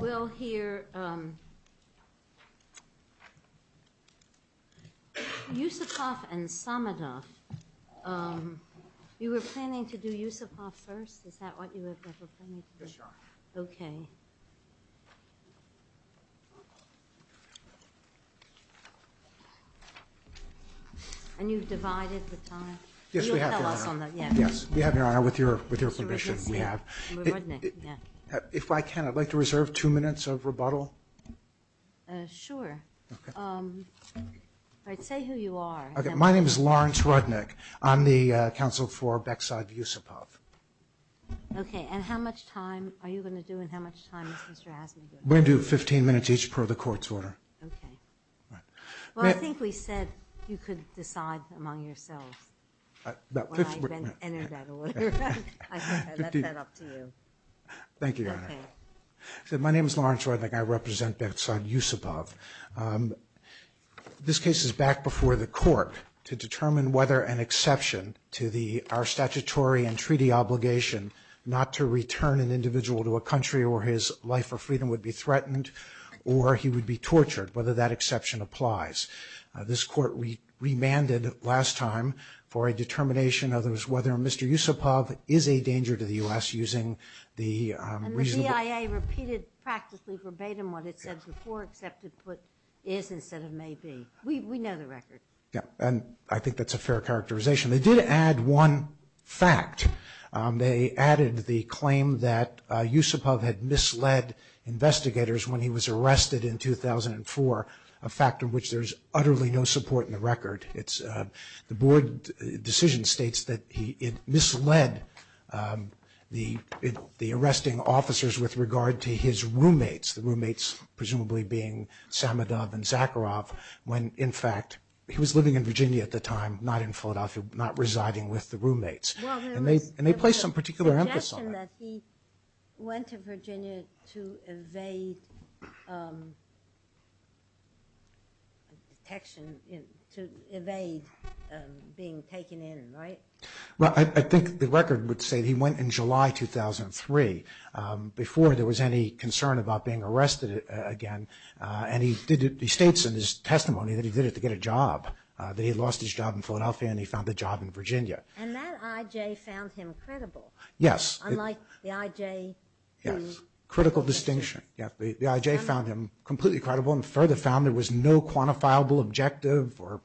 We'll hear Yusupov and Samazov. You were planning to do Yusupov first, is that what you were planning to do? Yes, Your Honor. Okay. And you've divided the time? Yes, we have, Your Honor. You'll tell us on that, yes. If I can, I'd like to reserve two minutes of rebuttal. Sure. Say who you are. My name is Lawrence Rudnick. I'm the counsel for Beksad Yusupov. Okay. And how much time are you going to do and how much time is Mr. Atty going to do? We're going to do 15 minutes each per the court's order. Okay. Well, I think we said you could decide among yourselves. About 15 minutes. I think I left that up to you. Thank you, Your Honor. Okay. My name is Lawrence Rudnick. I represent Beksad Yusupov. This case is back before the court to determine whether an exception to our statutory and treaty obligation not to return an individual to a country where his life or freedom would be threatened or he would be tortured, whether that exception applies. This court remanded last time for a determination of whether Mr. Yusupov is a danger to the U.S. using the reasonable... And the BIA repeated practically verbatim what it said before, except it put is instead of may be. We know the record. Yeah. And I think that's a fair characterization. They did add one fact. They added the claim that Yusupov had misled investigators when he was arrested in 2004, a fact of which there's utterly no support in the record. The board decision states that he misled the arresting officers with regard to his roommates, the roommates presumably being Samadov and Zakharov, when in fact he was living in Virginia at the time, not in Philadelphia, not residing with the roommates, and they placed some particular emphasis on that. So you're saying that he went to Virginia to evade detection, to evade being taken in, right? Well, I think the record would say he went in July 2003, before there was any concern about being arrested again, and he states in his testimony that he did it to get a job, that he lost his job in Philadelphia and he found a job in Virginia. And that IJ found him credible. Yes. Unlike the IJ who... Yes. Critical distinction. The IJ found him completely credible and further found there was no quantifiable objective or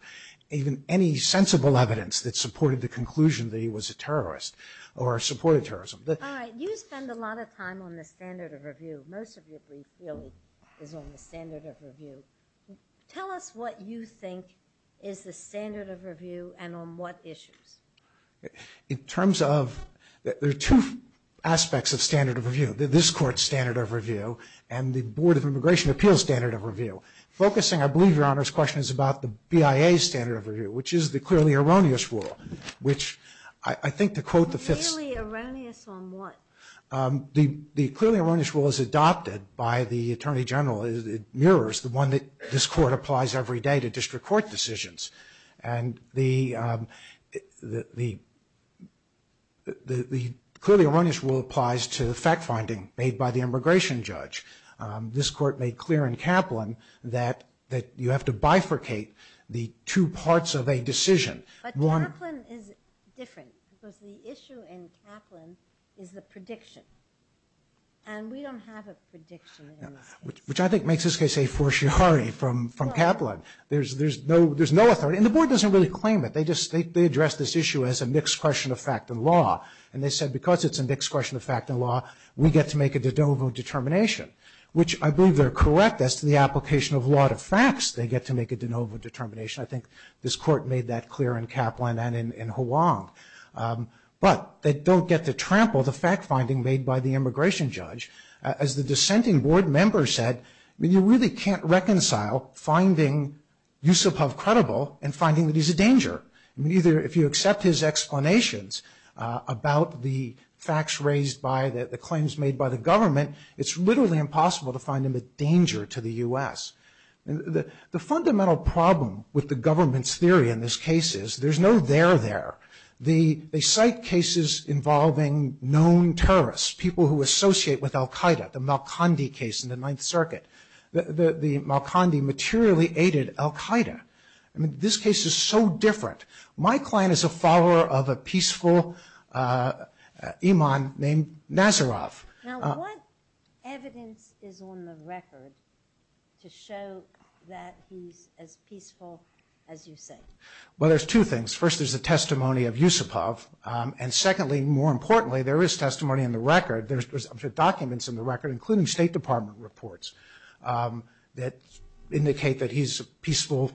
even any sensible evidence that supported the conclusion that he was a terrorist or supported terrorism. All right. You spend a lot of time on the standard of review. Most of your briefs, really, is on the standard of review. Tell us what you think is the standard of review and on what issues. In terms of... There are two aspects of standard of review. This court's standard of review and the Board of Immigration Appeals' standard of review. Focusing, I believe, Your Honor's question is about the BIA's standard of review, which is the clearly erroneous rule, which I think to quote the fifth... Clearly erroneous on what? The clearly erroneous rule is adopted by the Attorney General. It mirrors the one that this court applies every day to district court decisions. The clearly erroneous rule applies to the fact-finding made by the immigration judge. This court made clear in Kaplan that you have to bifurcate the two parts of a decision. But Kaplan is different because the issue in Kaplan is the prediction and we don't have a prediction. Which I think makes this case a fortiori from Kaplan. There's no authority and the board doesn't really claim it. They address this issue as a mixed question of fact and law and they said because it's a mixed question of fact and law, we get to make a de novo determination. Which I believe they're correct as to the application of law to facts, they get to make a de novo determination. I think this court made that clear in Kaplan and in Hoang. But they don't get to trample the fact-finding made by the immigration judge. As the dissenting board member said, you really can't reconcile finding Yusupov credible and finding that he's a danger. If you accept his explanations about the facts raised by the claims made by the government, it's literally impossible to find him a danger to the U.S. The fundamental problem with the government's theory in this case is there's no there there. They cite cases involving known terrorists, people who associate with Al-Qaeda, the Malkondi case in the Ninth Circuit. The Malkondi materially aided Al-Qaeda. This case is so different. My client is a follower of a peaceful imam named Nazarov. Now what evidence is on the record to show that he's as peaceful as you think? Well, there's two things. First, there's the testimony of Yusupov. And secondly, more importantly, there is testimony in the record. There's documents in the record, including State Department reports, that indicate that he's a peaceful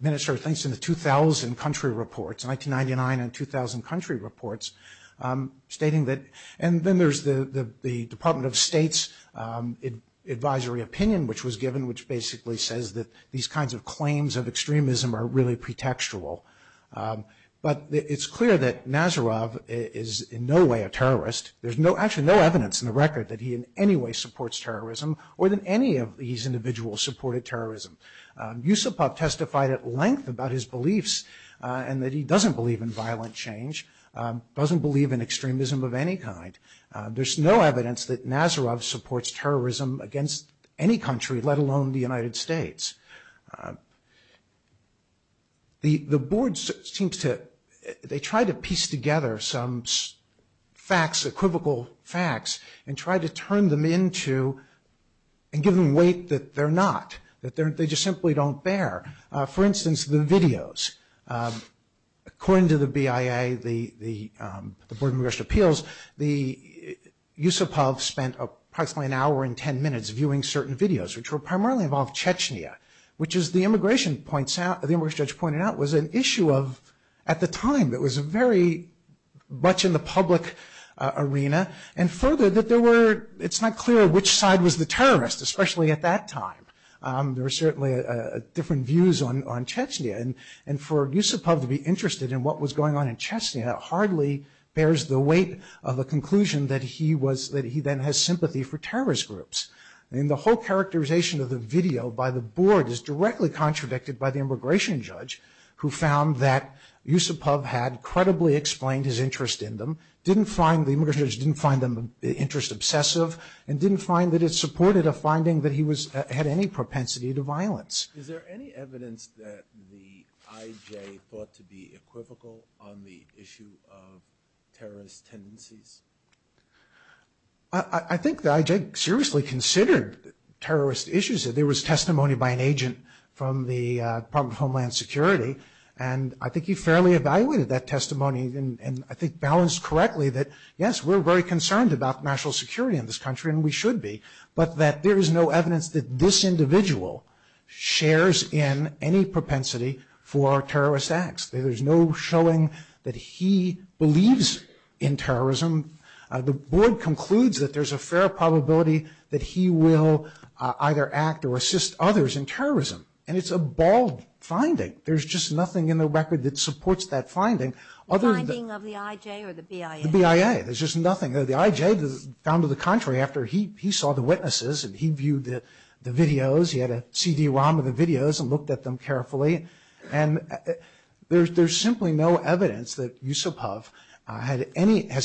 minister of things in the 2000 country reports, 1999 and 2000 country reports, stating that. And then there's the Department of State's advisory opinion, which was given, which basically says that these kinds of claims of extremism are really pretextual. But it's clear that Nazarov is in no way a terrorist. There's actually no evidence in the record that he in any way supports terrorism or that any of these individuals supported terrorism. Yusupov testified at length about his beliefs and that he doesn't believe in violent change, doesn't believe in extremism of any kind. There's no evidence that Nazarov supports terrorism against any country, let alone the United States. The board seems to, they try to piece together some facts, equivocal facts, and try to turn them into, and give them weight that they're not, that they just simply don't bear. For instance, the videos. According to the BIA, the Board of Congressional Appeals, Yusupov spent approximately an hour and ten minutes viewing certain videos, which were primarily about Chechnya, which as the immigration judge pointed out, was an issue of, at the time, it was very much in the public arena. And further, that there were, it's not clear which side was the terrorist, especially at that time. There were certainly different views on Chechnya. And for Yusupov to be interested in what was going on in Chechnya hardly bears the weight of a conclusion that he then has sympathy for terrorist groups. The whole characterization of the video by the board is directly contradicted by the immigration judge, who found that Yusupov had credibly explained his interest in them, didn't find, the immigration judge didn't find the interest obsessive, and didn't find that it supported a finding that he had any propensity to violence. Is there any evidence that the IJ thought to be equivocal on the issue of terrorist tendencies? I think the IJ seriously considered terrorist issues. There was testimony by an agent from the Department of Homeland Security, and I think he fairly evaluated that testimony, and I think balanced correctly that, yes, we're very concerned about national security in this country, and we should be, but that there is no evidence that this individual shares in any propensity for terrorist acts. There's no showing that he believes in terrorism. The board concludes that there's a fair probability that he will either act or assist others in terrorism, and it's a bald finding. There's just nothing in the record that supports that finding. The finding of the IJ or the BIA? The BIA. There's just nothing. The IJ found to the contrary after he saw the witnesses, and he viewed the videos, he had a CD-ROM of the videos and looked at them carefully, and there's simply no evidence that Yusupov has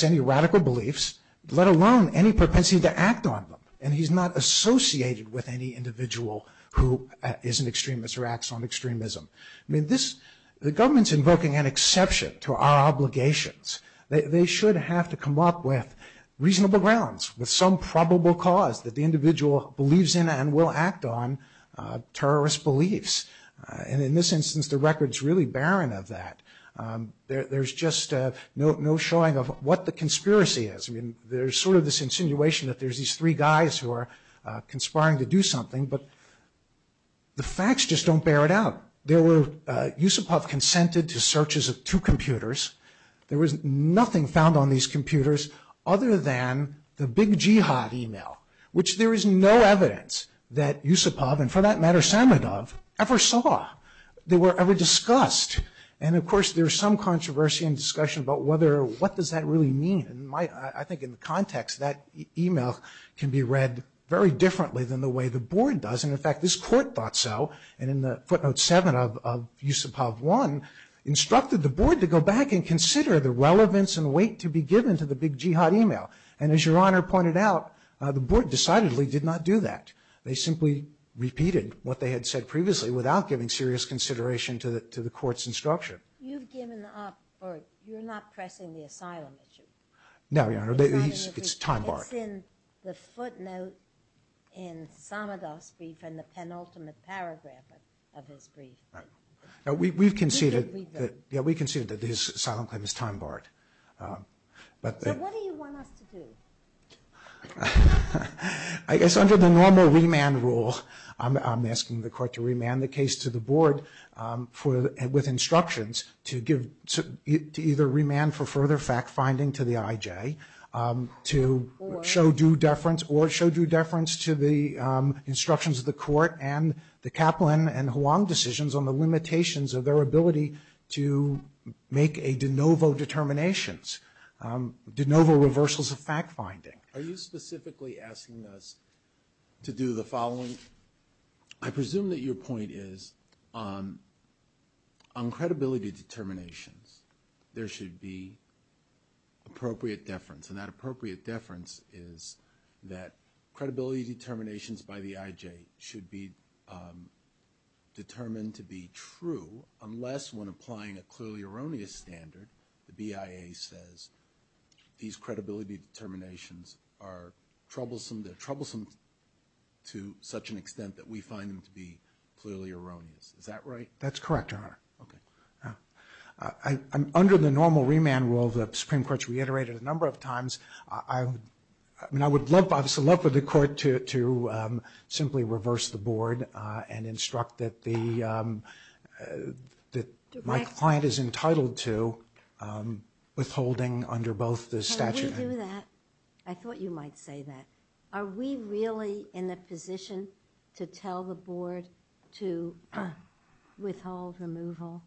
any radical beliefs, let alone any propensity to act on them, and he's not associated with any individual who is an extremist or acts on extremism. The government's invoking an exception to our obligations. They should have to come up with reasonable grounds, with some probable cause that the individual believes in and will act on terrorist beliefs, and in this instance, the record's really barren of that. There's just no showing of what the conspiracy is. There's sort of this insinuation that there's these three guys who are conspiring to do something, but the facts just don't bear it out. There were Yusupov consented to searches of two computers. There was nothing found on these computers other than the Big Jihad email, which there is no evidence that Yusupov, and for that matter, Samadov, ever saw. They were ever discussed, and of course, there's some controversy and discussion about what does that really mean, and I think in context, that email can be read very differently than the way the board does, and in fact, this court thought so, and in the footnote seven of Yusupov one, instructed the board to go back and consider the relevance and weight to be given to the Big Jihad email, and as Your Honor pointed out, the board decidedly did not do that. They simply repeated what they had said previously without giving serious consideration to the court's instruction. You've given up, or you're not pressing the asylum issue? No, Your Honor. It's a time bar. It's in the footnote in Samadov's brief and the penultimate paragraph of his brief. We've conceded that the asylum claim is time-barred, but... Then what do you want us to do? I guess under the normal remand rule, I'm asking the court to remand the case to the board with instructions to either remand for further fact-finding to the IJ, to show due deference or show due deference to the instructions of the court, and the Kaplan and Huang decisions on the limitations of their ability to make a de novo determinations, de novo reversals of fact-finding. Are you specifically asking us to do the following? I presume that your point is on credibility determinations, there should be appropriate deference, and that appropriate deference is that credibility determinations by the BIA should be true, unless when applying a clearly erroneous standard, the BIA says these credibility determinations are troublesome, they're troublesome to such an extent that we find them to be clearly erroneous. Is that right? That's correct, Your Honor. Under the normal remand rule, the Supreme Court's reiterated a number of times, I would love for the court to simply reverse the board and instruct that my client is entitled to withholding under both the statute and the statute of limitations. Can we do that? I thought you might say that. Are we really in a position to tell the board to withhold removal?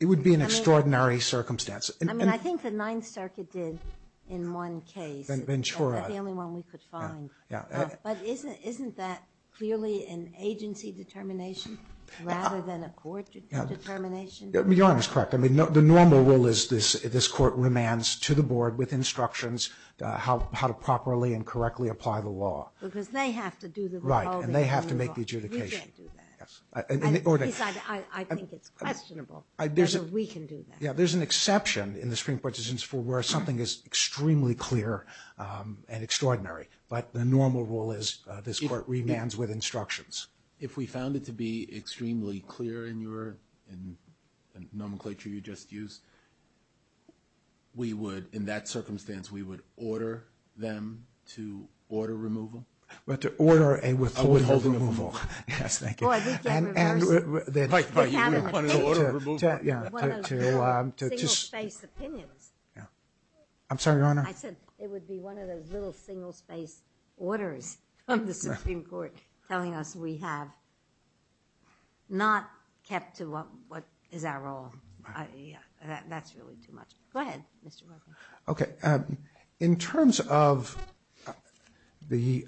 It would be an extraordinary circumstance. I mean, I think the Ninth Circuit did in one case. Ventura. Ventura. That's the only one we could find. Yeah. But isn't that clearly an agency determination, rather than a court determination? Your Honor is correct, I mean, the normal rule is this court remands to the board with instructions how to properly and correctly apply the law. Because they have to do the withholding removal. Right, and they have to make the adjudication. You can't do that. I think it's questionable whether we can do that. Yeah, there's an exception in the Supreme Court decision where something is extremely clear and extraordinary. But the normal rule is this court remands with instructions. If we found it to be extremely clear in your nomenclature you just used, we would, in that circumstance, we would order them to order removal? We have to order a withholding removal. A withholding removal. Yes, thank you. Oh, I just didn't remember. Right, right. You wanted to order removal? I'm sorry, Your Honor. I said one of the single states' opinions. It would be one of those little single state orders from the Supreme Court telling us we have not kept to what is our role. Right. That's really too much. Go ahead, Mr. Murthy. Okay, in terms of the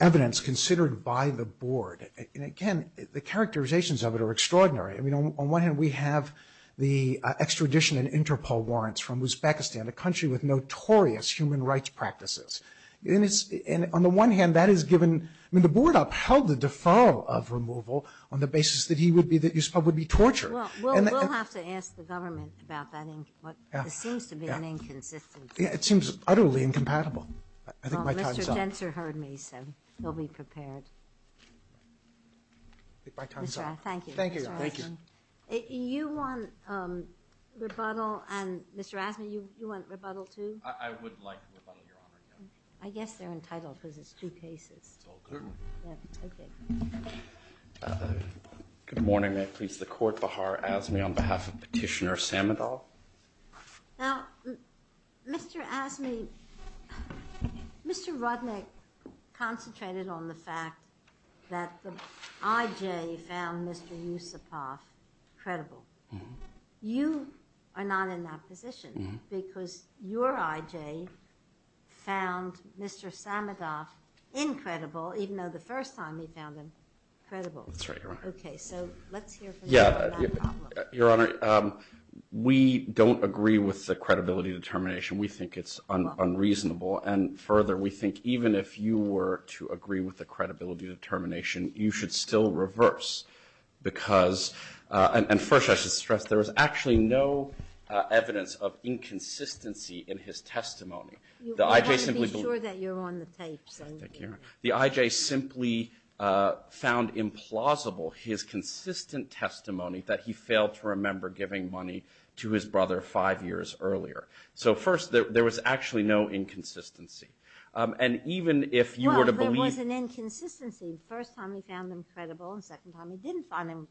evidence considered by the board, and again, the characterizations of it are extraordinary. I mean, on one hand, we have the extradition and Interpol warrants from Uzbekistan, a country with notorious human rights practices. On the one hand, that is given, I mean, the board upheld the deferral of removal on the basis that it would be torture. Well, we'll have to ask the government about that. It seems to be an inconsistency. It seems utterly incompatible. I think by time's up. Well, Mr. Zinsser heard me, so he'll be prepared. I think by time's up. Mr. Rafferty, thank you. Thank you, Your Honor. Thank you. You want rebuttal? Mr. Rafferty, you want rebuttal? I would like rebuttal, Your Honor. I guess they're entitled to those two cases. Okay. Good morning. May I please support Vahar Azmi on behalf of Petitioner Samadal? Now, Mr. Azmi, Mr. Rodnick concentrated on the fact that the IJ found Mr. Yusupov credible. You are not in that position because your IJ found Mr. Samadal incredible, even though the first time he found him credible. That's right, Your Honor. Okay. So let's hear from you on that problem. Yeah. Your Honor, we don't agree with the credibility determination. We think it's unreasonable. And further, we think even if you were to agree with the credibility determination, you should still reverse because, and first I should stress, there is actually no evidence of inconsistency in his testimony. I want to be sure that you're on the safe side. The IJ simply found implausible his consistent testimony that he failed to remember giving money to his brother five years earlier. So first, there was actually no inconsistency. No, there was an inconsistency. The first time he found him credible and the second time he didn't find him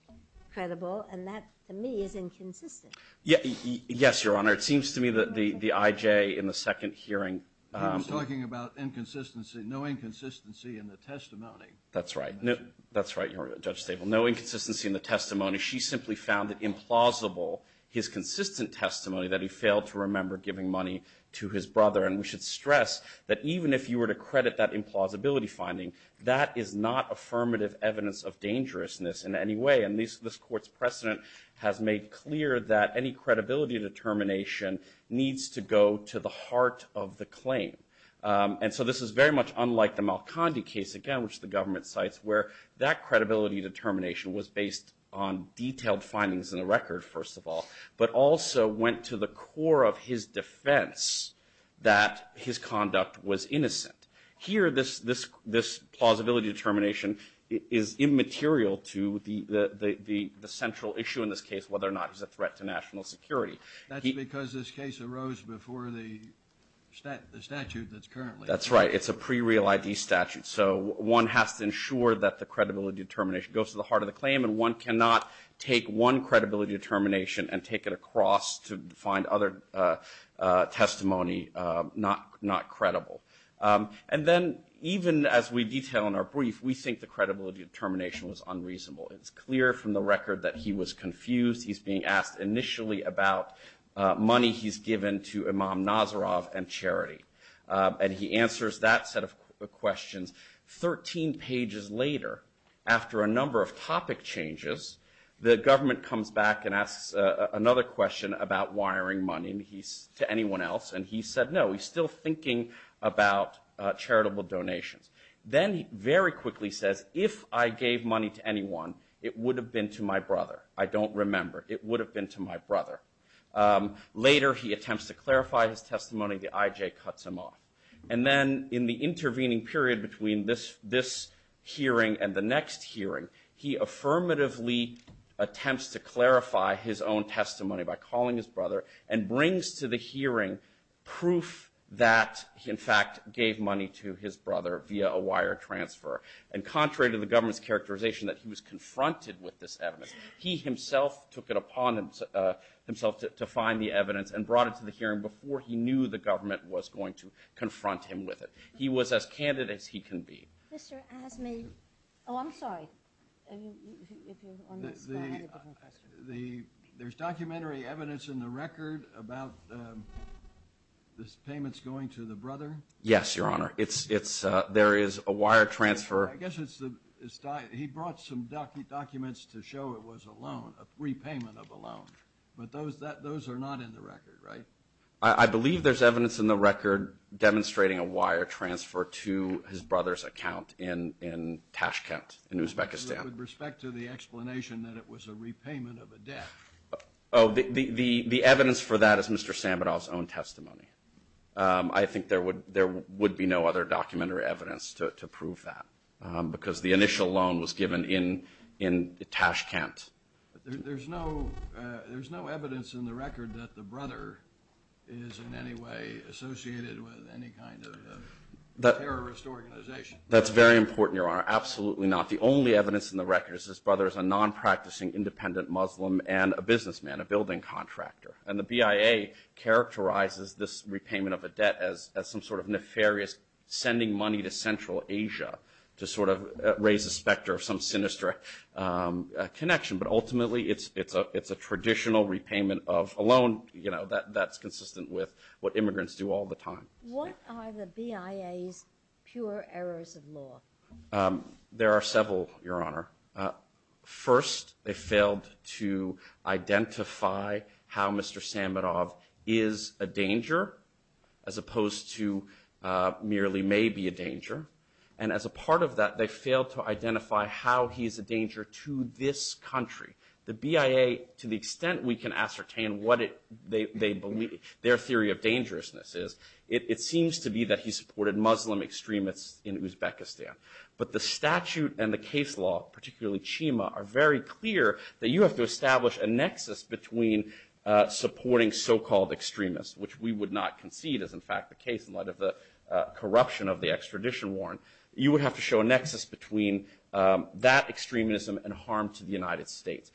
credible. And that, to me, is inconsistent. Yes, Your Honor. It seems to me that the IJ in the second hearing... I was talking about inconsistency. No inconsistency in the testimony. That's right. That's right, Your Honor, Judge Stable. No inconsistency in the testimony. She simply found it implausible, his consistent testimony, that he failed to remember giving money to his brother. And we should stress that even if you were to credit that implausibility finding, that is not affirmative evidence of dangerousness in any way. And this Court's precedent has made clear that any credibility determination needs to go to the heart of the claim. And so this is very much unlike the Malkandi case, again, which the government cites, where that credibility determination was based on detailed findings in the record, first of all, but also went to the core of his defense that his conduct was innocent. Here this plausibility determination is immaterial to the central issue in this case, whether or not he's a threat to national security. That's because this case arose before the statute that's currently... That's right. It's a pre-real ID statute. So one has to ensure that the credibility determination goes to the heart of the claim and one cannot take one credibility determination and take it across to find other testimony not credible. And then even as we detail in our brief, we think the credibility determination was unreasonable. It's clear from the record that he was confused. He's being asked initially about money he's given to Imam Nazarov and charity. And he answers that set of questions. Thirteen pages later, after a number of topic changes, the government comes back and asks another question about wiring money to anyone else. And he said, no, he's still thinking about charitable donations. Then he very quickly says, if I gave money to anyone, it would have been to my brother. I don't remember. It would have been to my brother. Later, he attempts to clarify his testimony. The IJ cuts him off. And then in the intervening period between this hearing and the next hearing, he affirmatively attempts to clarify his own testimony by calling his brother and brings to the hearing proof that he in fact gave money to his brother via a wire transfer. And contrary to the government's characterization that he was confronted with this evidence, he himself took it upon himself to find the evidence and brought it to the hearing before he knew the government was going to confront him with it. He was as candid as he can be. There's documentary evidence in the record about the payments going to the brother? Yes, Your Honor. There is a wire transfer. I guess he brought some documents to show it was a loan, a repayment of a loan. But those are not in the record, right? I believe there's evidence in the record demonstrating a wire transfer to his brother's account in Tashkent in Uzbekistan. With respect to the explanation that it was a repayment of a debt. The evidence for that is Mr. Samenov's own testimony. I think there would be no other documentary evidence to prove that because the initial loan was given in Tashkent. There's no evidence in the record that the brother is in any way associated with any kind of terrorist organization? That's very important, Your Honor. Absolutely not. The only evidence in the record is his brother is a non-practicing independent Muslim and a businessman, a building contractor. And the BIA characterizes this repayment of a debt as some sort of nefarious sending money to Central Asia to sort of raise the specter of some sinister connection. But ultimately, it's a traditional repayment of a loan that's consistent with what immigrants do all the time. What are the BIA's pure errors of law? There are several, Your Honor. First, they failed to identify how Mr. Samenov is a danger as opposed to merely maybe a danger. And as a part of that, they failed to identify how he's a danger to this country. The BIA, to the extent we can ascertain what their theory of dangerousness is, it seems to be that he supported Muslim extremists in Uzbekistan. But the statute and the case law, particularly Chima, are very clear that you have to establish a nexus between supporting so-called extremists, which we would not concede is in fact the case in light of the corruption of the extradition warrant. You would have to show a nexus between that extremism and harm to the United States.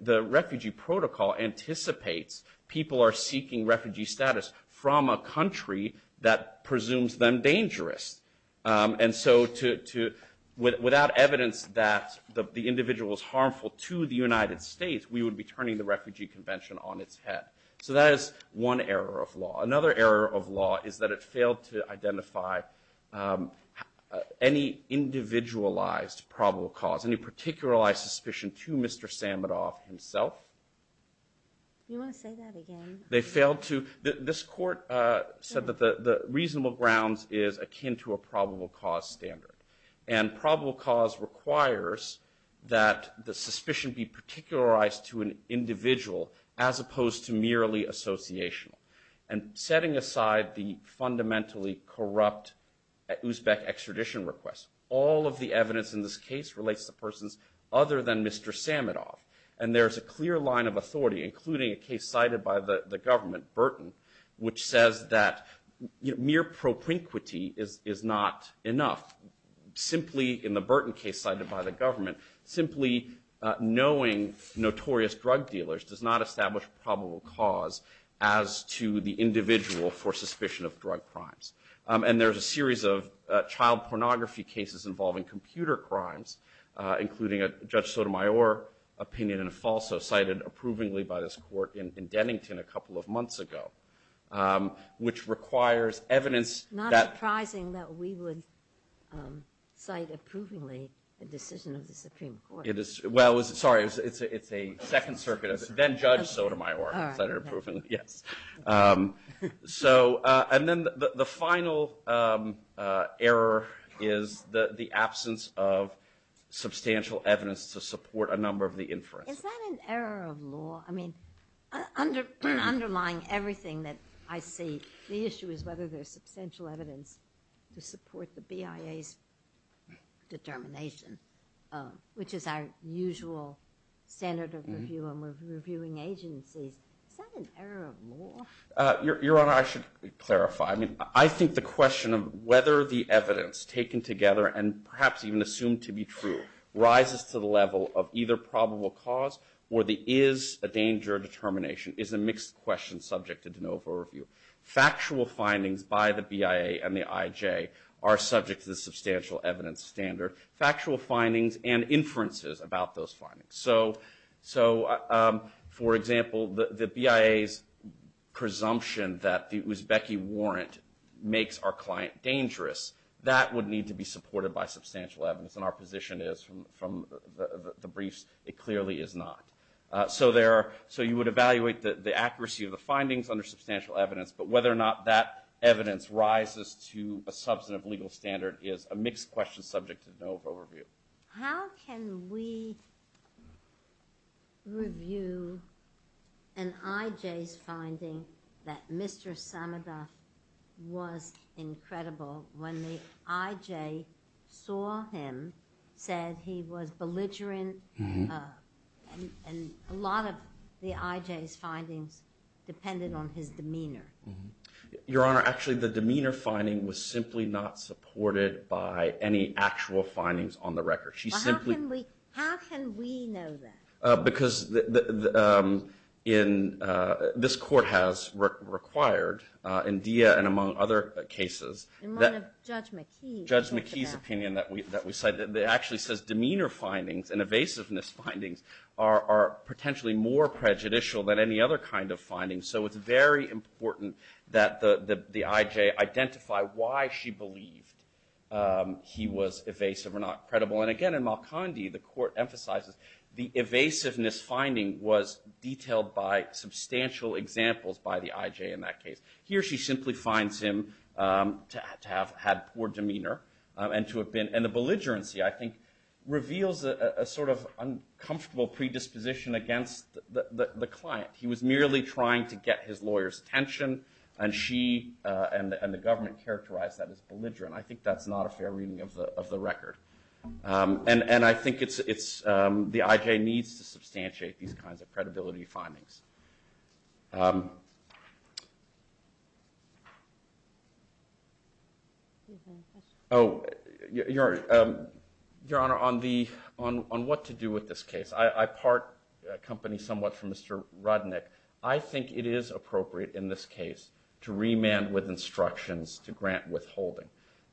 The refugee protocol anticipates people are seeking refugee status from a country that presumes them dangerous. And so without evidence that the individual is harmful to the United States, we would be turning the refugee convention on its head. So that is one error of law. Another error of law is that it failed to identify any individualized probable cause, any particularized suspicion to Mr. Samenov himself. You want to say that again? They failed to – this court said that the reasonable grounds is akin to a probable cause standard. And probable cause requires that the suspicion be particularized to an individual as opposed to merely associational. And setting aside the fundamentally corrupt Uzbek extradition request, all of the evidence in this case relates to persons other than Mr. Samenov. And there's a clear line of authority, including a case cited by the government, Burton, which says that mere propinquity is not enough. Simply, in the Burton case cited by the government, simply knowing notorious drug dealers does not establish probable cause as to the individual for suspicion of drug crimes. And there's a series of child pornography cases involving computer crimes, including a Judge Sotomayor opinion, and it's also cited approvingly by this court in Dennington a couple of months ago, which requires evidence that – It's not surprising that we would cite approvingly the decision of the Supreme Court. It is – well, sorry, it's a Second Circuit – then-Judge Sotomayor. All right. Yes. So – and then the final error is the absence of substantial evidence to support a number of the inference. Is that an error of law? I mean, underlying everything that I see, the issue is whether there's substantial evidence to support the BIA's determination, which is our usual standard of review and evidence. Your Honor, I should clarify. I mean, I think the question of whether the evidence taken together and perhaps even assumed to be true rises to the level of either probable cause or there is a danger of determination is a mixed question subject to de novo review. Factual findings by the BIA and the IJ are subject to the substantial evidence standard. Factual findings and inferences about those findings. So, for example, the BIA's presumption that it was Becky Warrant makes our client dangerous. That would need to be supported by substantial evidence, and our position is from the briefs it clearly is not. So there – so you would evaluate the accuracy of the findings under substantial evidence, but whether or not that evidence rises to a substantive legal standard is a mixed question subject to de novo review. How can we review an IJ's finding that Mr. Sanada was incredible when the IJ saw him, said he was belligerent, and a lot of the IJ's findings depended on his demeanor? Your Honor, actually the demeanor finding was simply not supported by any actual findings on the record. She simply – But how can we know that? Because in – this court has required, in Dia and among other cases – In one of Judge McKee's – Judge McKee's opinion that we cited, it actually says demeanor findings and evasiveness findings are potentially more prejudicial than any other kind of findings. So it's very important that the IJ identify why she believed he was evasive or not credible. And again, in Malkondi the court emphasizes the evasiveness finding was detailed by substantial examples by the IJ in that case. Here she simply finds him to have had poor demeanor and to have been – and the belligerency I think reveals a sort of uncomfortable predisposition against the client. He was merely trying to get his lawyer's attention and she – and the government characterized that as belligerent. I think that's not a fair reading of the record. And I think it's – the IJ needs to substantiate these kinds of credibility findings. Oh, Your Honor, on the – on what to do with this case. I part – accompany somewhat from Mr. Rudnick. I think it is appropriate in this case to remand with instructions to grant withholding.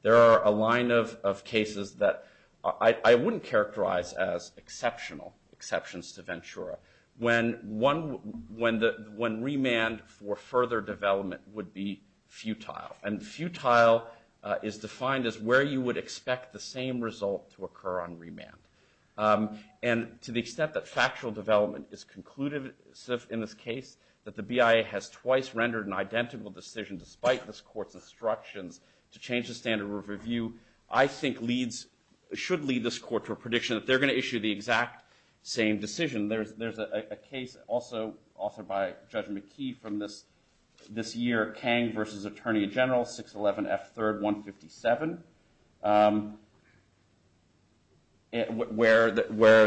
There are a line of cases that I wouldn't characterize as exceptional exceptions to Ventura. When one – when the – when remand for further development would be futile. And futile is defined as where you would expect the same result to occur on remand. And to the extent that factual development is concluded in this case, that the BIA has twice rendered an identical decision despite this court's instructions to change the standard of review, I think leads – should lead this court to a prediction that they're going to issue the exact same decision. There's a case also by Judge McKee from this year, Kang v. Attorney General, 611 F. 3rd 157. Where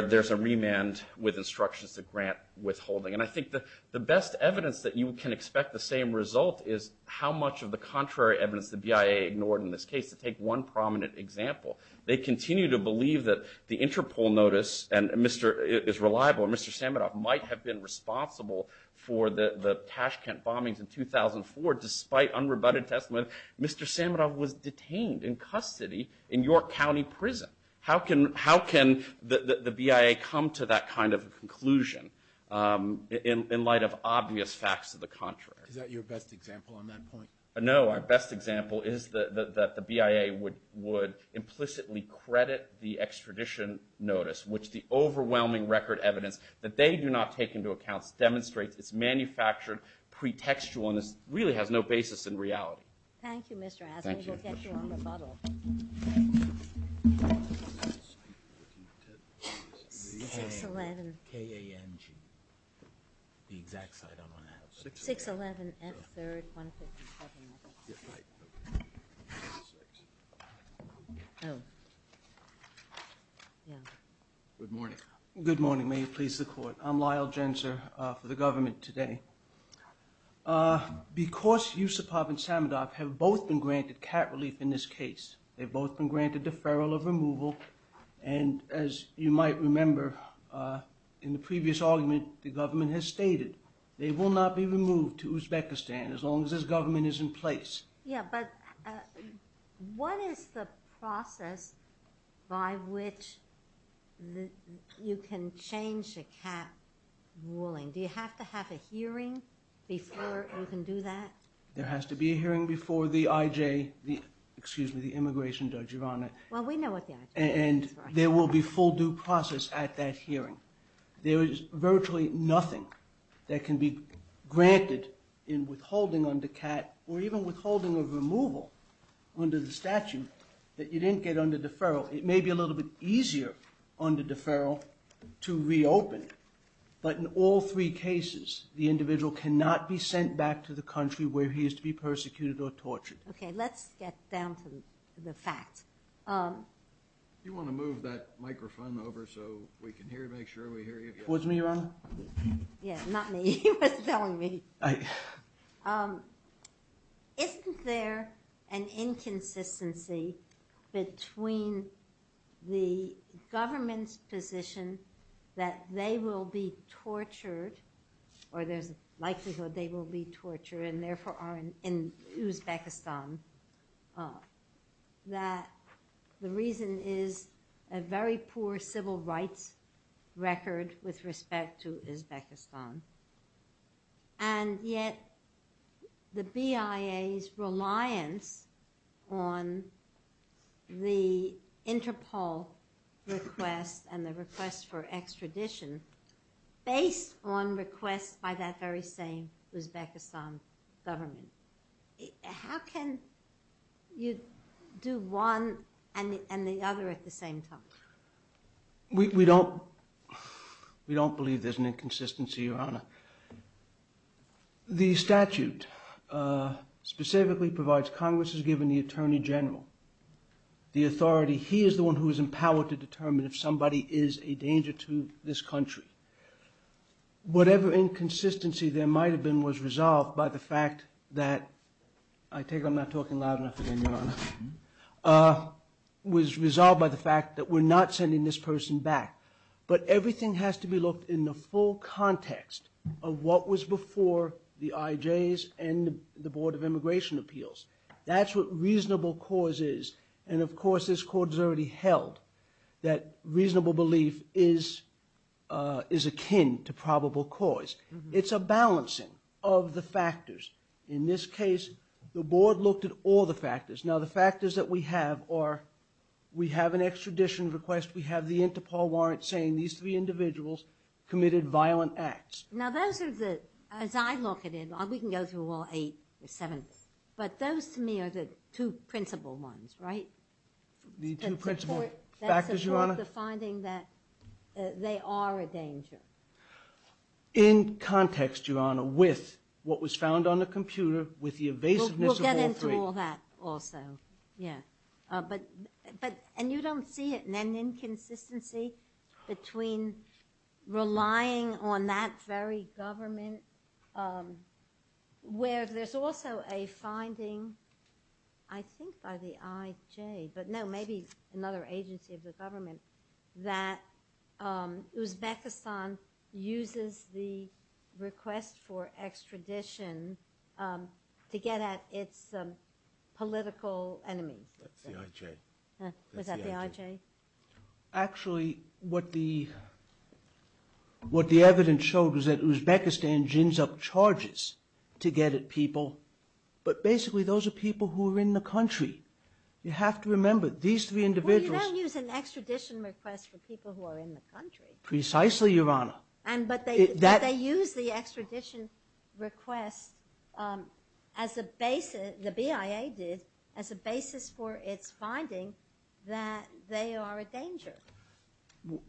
there's a remand with instructions to grant withholding. And I think the best evidence that you can expect the same result is how much of the contrary evidence the BIA ignored in this case. To take one prominent example, they continue to believe that the Interpol notice – and Mr. – is reliable, and Mr. Samuroff might have been responsible for the Tashkent bombings in 2004. Despite unrebutted testimony, Mr. Samuroff was detained in custody in York County Prison. How can – how can the BIA come to that kind of a conclusion in light of obvious facts to the contrary? Is that your best example on that point? No, our best example is that the BIA would implicitly credit the extradition notice, which the overwhelming record evidence that they do not take into account demonstrates that its manufactured pretextualness really has no basis in reality. Thank you, Mr. Abner. We'll get you on rebuttal. Good morning. Good morning. May it please the Court. I'm Lyle Jenser for the government today. Because Yusupov and Samuroff have both been granted cat relief in this case, they've both been granted deferral of removal, and as you might remember in the previous argument, the government has stated they will not be removed to Uzbekistan as long as this government is in place. Yeah, but what is the process by which you can change a cat's ruling? Do you have to have a hearing before you can do that? There has to be a hearing before the IJ – excuse me, the immigration judge, Your Honor. Well, we know what the IJ is. And there will be full due process at that hearing. There is virtually nothing that can be granted in withholding on the cat or even withholding a removal under the statute that you didn't get under deferral. It may be a little bit easier under deferral to reopen it, but in all three cases, the individual cannot be sent back to the country where he is to be persecuted or tortured. Okay, let's get down to the facts. You want to move that microphone over so we can hear, make sure we hear you. Was me wrong? Yeah, not me. You were telling me. Thanks. Isn't there an inconsistency between the government's position that they will be The reason is a very poor civil rights record with respect to Uzbekistan, and yet the BIA is reliant on the Interpol request and the request for extradition based on requests by that very same Uzbekistan government. How can you do one and the other at the same time? We don't believe there's an inconsistency, Your Honor. The statute specifically provides Congress is given the Attorney General the authority. He is the one who is empowered to determine if somebody is a danger to this country. Whatever inconsistency there might have been was resolved by the fact that, I take it I'm not talking loud enough again, Your Honor, was resolved by the fact that we're not sending this person back, but everything has to be looked in the full context of what was before the IJs and the Board of Immigration Appeals. That's what reasonable cause is. Of course, this Court has already held that reasonable belief is akin to probable cause. It's a balancing of the factors. In this case, the Board looked at all the factors. Now, the factors that we have are we have an extradition request, we have the Interpol warrant saying these three individuals committed violent acts. Now, those are the, as I look at it, we can go through all eight or seven, but those to me are the two principal ones, right? The two principal factors, Your Honor? That support the finding that they are a danger. In context, Your Honor, with what was found on the computer, with the evasiveness of all three. We'll get into all that also. Yeah. But, and you don't see it, an inconsistency between relying on that very government, where there's also a finding, I think by the IJ, but no, maybe another agency of the government, that Uzbekistan uses the request for extradition to get at its political enemies. That's the IJ. Was that the IJ? Actually, what the evidence showed was that Uzbekistan gins up charges to get at people, but basically those are people who are in the country. You have to remember, these three individuals... It's an extradition request for people who are in the country. Precisely, Your Honor. But they use the extradition request as a basis, the BIA did, as a basis for its finding that they are a danger.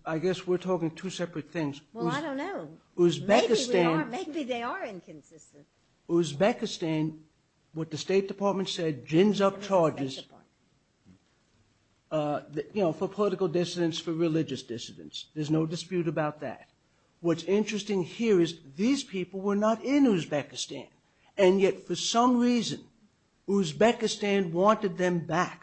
I guess we're talking two separate things. Well, I don't know. Uzbekistan... Maybe they are inconsistent. Uzbekistan, what the State Department said, gins up charges for political dissidents, for religious dissidents. There's no dispute about that. What's interesting here is these people were not in Uzbekistan, and yet for some reason, Uzbekistan wanted them back.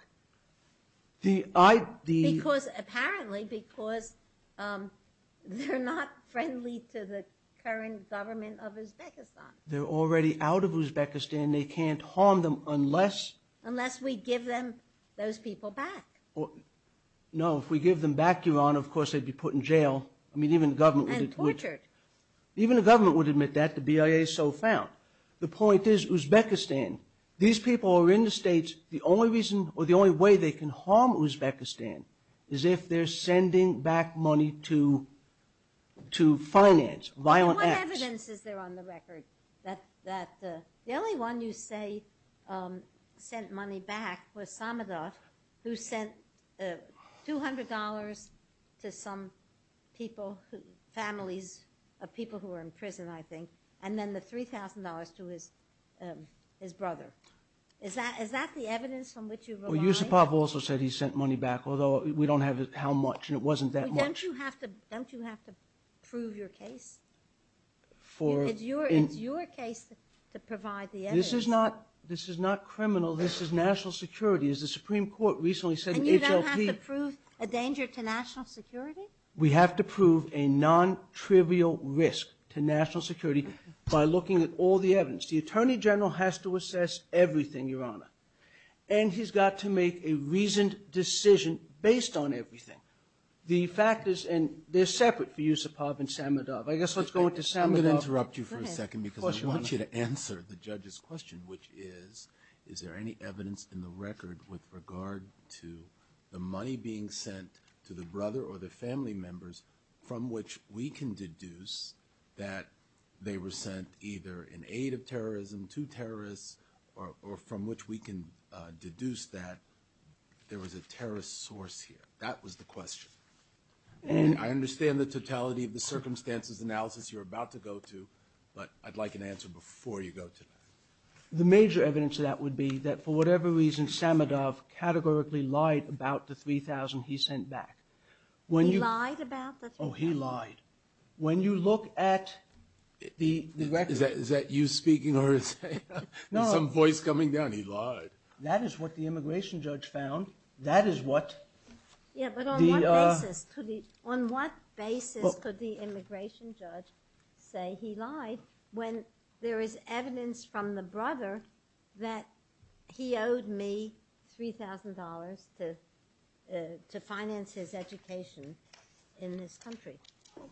Because, apparently, because they're not friendly to the current government of Uzbekistan. They're already out of Uzbekistan. They can't harm them unless... Unless we give them, those people back. No, if we give them back, Your Honor, of course they'd be put in jail. I mean, even the government would... And tortured. Even the government would admit that. The BIA is so found. The point is, Uzbekistan, these people are in the States. The only reason, or the only way they can harm Uzbekistan is if they're sending back money to finance violent acts. What evidence is there on the record that the only one you say sent money back was Hamidash who sent $200 to some people, families of people who were in prison, I think, and then the $3,000 to his brother. Is that the evidence from which you rely? Yusupov also said he sent money back, although we don't have how much. It wasn't that much. Don't you have to prove your case? For... It's your case to provide the evidence. This is not criminal. This is national security. As the Supreme Court recently said... And you don't have to prove a danger to national security? We have to prove a non-trivial risk to national security by looking at all the evidence. The Attorney General has to assess everything, Your Honor. And he's got to make a reasoned decision based on everything. The fact is, and they're separate, Yusupov and Samudov. I guess let's go with Samudov. I'm going to interrupt you for a second because I want you to answer the judge's question, which is, is there any evidence in the record with regard to the money being sent to the brother or the family members from which we can deduce that they were sent either in aid of terrorism to terrorists or from which we can deduce that there was a terrorist source here? That was the question. And I understand the totality of the circumstances analysis you're about to go to, but I'd like an answer before you go to that. The major evidence of that would be that for whatever reason, Samudov categorically lied about the $3,000 he sent back. He lied about the $3,000? Oh, he lied. When you look at the record... Is that you speaking or is that some voice coming down? No. He lied. That is what the immigration judge found. Yeah, but on what basis could the immigration judge say he lied when there is evidence from the brother that he owed me $3,000 to finance his education in this country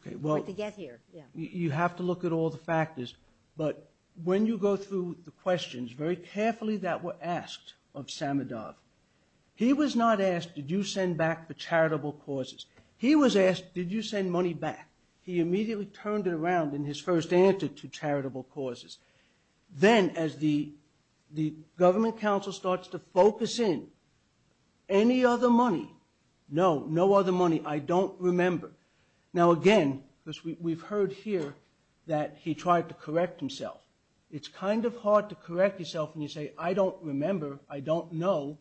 to get here? You have to look at all the factors, but when you go through the questions very carefully that were asked of Samudov, he was not asked, did you send back the charitable causes? He was asked, did you send money back? He immediately turned it around in his first answer to charitable causes. Then as the government counsel starts to focus in, any other money? No, no other money. I don't remember. Now again, because we've heard here that he tried to correct himself. It's kind of hard to correct yourself when you say, I don't remember, I don't know,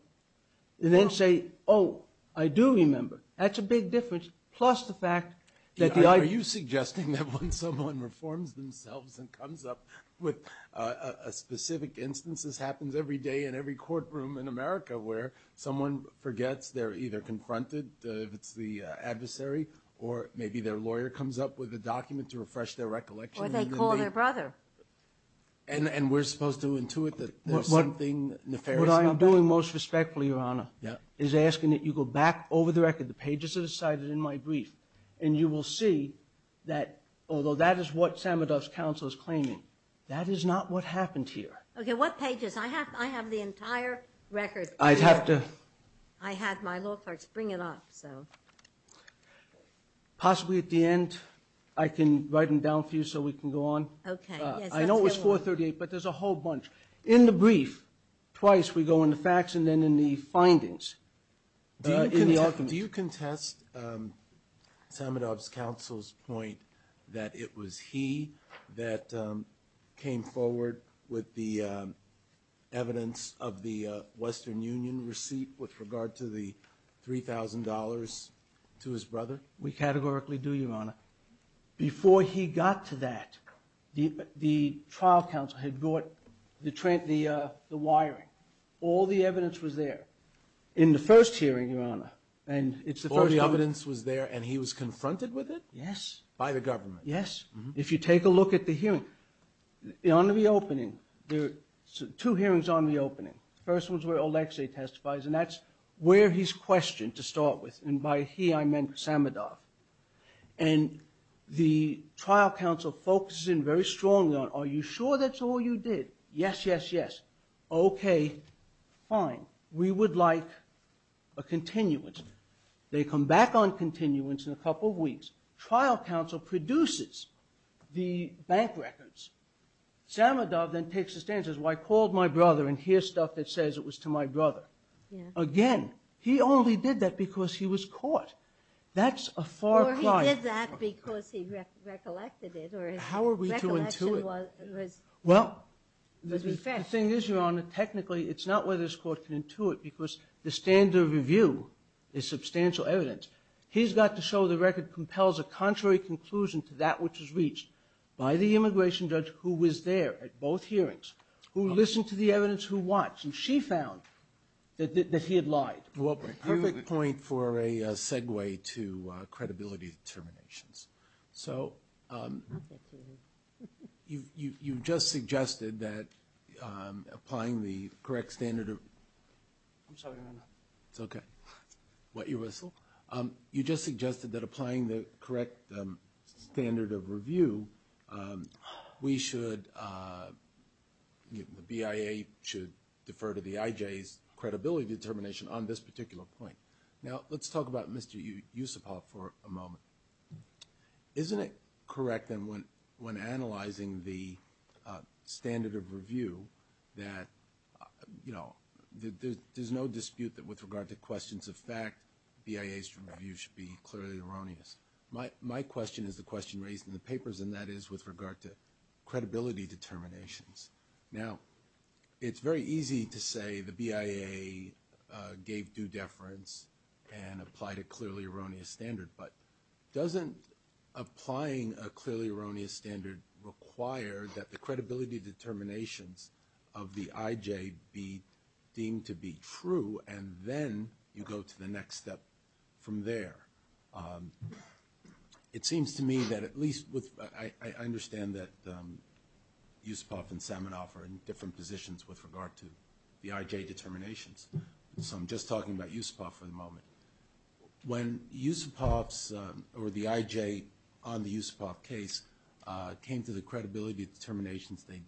and then say, oh, I do remember. That's a big difference, plus the fact that the... Are you suggesting that when someone reforms themselves and comes up with a specific instance? This happens every day in every courtroom in America where someone forgets they're either confronted, it's the adversary, or maybe their lawyer comes up with a document to refresh their recollection. Or they call their brother. And we're supposed to intuit that there's something nefarious. What I am doing most respectfully, Your Honor, is asking that you go back over the record, the pages that are cited in my brief, and you will see that although that is what Samudov's counsel is claiming, that is not what happened here. Okay, what pages? I have the entire record. I'd have to... I had my law clerks bring it up, so... Possibly at the end, I can write them down for you so we can go on. Okay. I know it was 438, but there's a whole bunch. In the brief, twice we go on the facts and then in the findings. Do you contest Samudov's counsel's point that it was he that came forward with the evidence of the Western Union receipt with regard to the $3,000 to his brother? We categorically do, Your Honor. Before he got to that, the trial counsel had brought the wiring. All the evidence was there in the first hearing, Your Honor. All the evidence was there and he was confronted with it? Yes. By the government? Yes. If you take a look at the hearing, on the opening, there were two hearings on the opening. The first was where Oleksii testifies, and that's where he's questioned to start with. And by he, I meant Samudov. And the trial counsel focuses in very strongly on, are you sure that's all you did? Yes, yes, yes. Okay, fine. We would like a continuance. They come back on continuance in a couple weeks. Trial counsel produces the bank records. Samudov then takes a stance and says, well, I called my brother and here's stuff that says it was to my brother. Again, he only did that because he was caught. That's a far cry. Or he did that because he recollected it. How are we to intuit? Well, the thing is, Your Honor, technically it's not whether this court can intuit because the standard review is substantial evidence. He's got to show the record compels a contrary conclusion to that which was reached by the immigration judge who was there at both hearings, who listened to the evidence, who watched, who she found, that he had lied. Well, perfect point for a segue to credibility determinations. So you just suggested that applying the correct standard of review, we should, the BIA should defer to the IJ's credibility determination on this particular point. Now let's talk about Mr. Yusupov for a moment. Isn't it correct then when analyzing the standard of review that there's no dispute that with regard to questions of fact, BIA's review should be clearly erroneous. My question is the question raised in the papers and that is with regard to credibility determinations. Now, it's very easy to say the BIA gave due deference and applied a clearly erroneous standard, but doesn't applying a clearly erroneous standard require that the credibility determinations of the IJ be deemed to be true and then you go to the next step from there? It seems to me that at least, I understand that Yusupov and Saminov are in different positions with regard to the IJ determinations. So I'm just talking about Yusupov for the moment. When Yusupov's or the IJ on the Yusupov case came to the credibility determinations they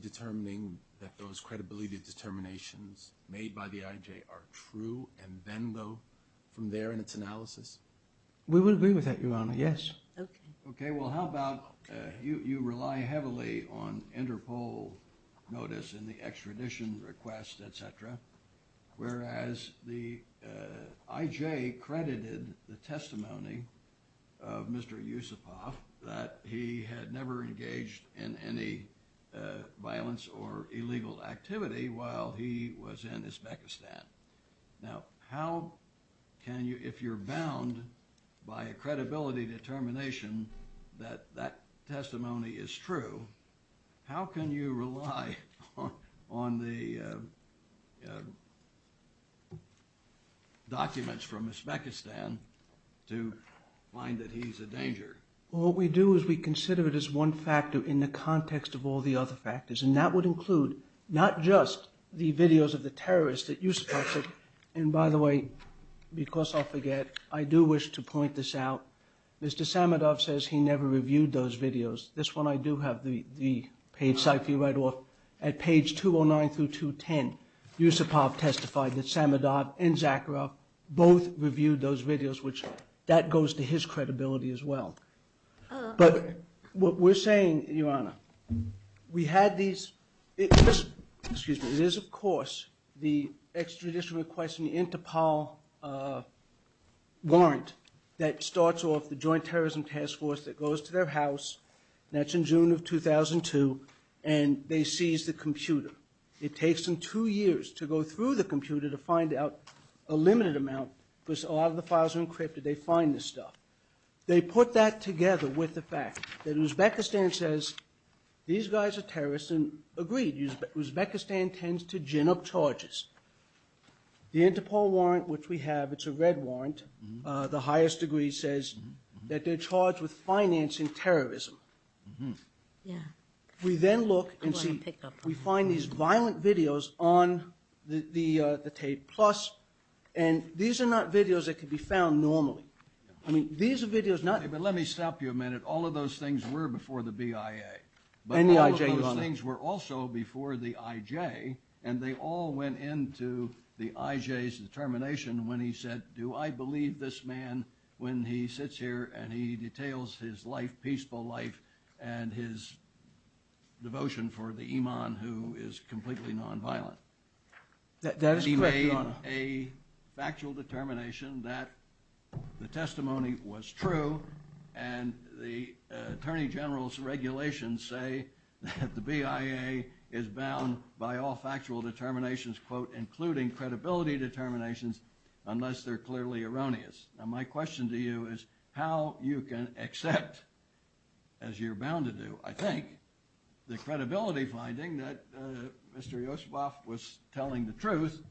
determined that those credibility determinations made by the IJ are true and then go from there in its analysis? We would agree with that, Your Honor. Yes. Okay. Well, how about you rely heavily on Interpol notice and the extradition request, et cetera, whereas the IJ credited the testimony of Mr. Yusupov that he had never engaged in any violence or illegal activity while he was in Uzbekistan. Now, how can you, if you're bound by a credibility determination that that testimony is true, how can you rely on the documents from Uzbekistan to find that he's a danger? Well, what we do is we consider it as one factor in the context of all the other factors and that would include not just the videos of the terrorists that Yusupov took. And by the way, because I forget, I do wish to point this out. Mr. Saminov says he never reviewed those videos. This one I do have the page cycle right off. At page 209 through 210, Yusupov testified that Saminov and Zakharov both reviewed those videos, which that goes to his credibility as well. But what we're saying, Your Honor, we had these... Excuse me. It is, of course, the extradition request and the Interpol warrant that starts off the That's in June of 2002 and they seize the computer. It takes them two years to go through the computer to find out a limited amount because a lot of the files are encrypted. They find this stuff. They put that together with the fact that Uzbekistan says, these guys are terrorists and, agreed, Uzbekistan tends to gin up charges. The Interpol warrant, which we have, it's a red warrant. The highest degree says that they're charged with financing terrorism. Yeah. We then look and see, we find these violent videos on the TAPE Plus and these are not videos that could be found normally. I mean, these are videos not... But let me stop you a minute. All of those things were before the BIA. And the IJ. But all of those things were also before the IJ and they all went into the IJ's determination when he said, do I believe this man when he sits here and he details his life, peaceful life, and his devotion for the imam who is completely nonviolent. That is correct. He made a factual determination that the testimony was true and the Attorney General's regulations say that the BIA is bound by all factual determinations, quote, including credibility determinations, unless they're clearly erroneous. Now, my question to you is how you can accept, as you're bound to do, I think, the credibility finding that Mr. Yusufov was telling the truth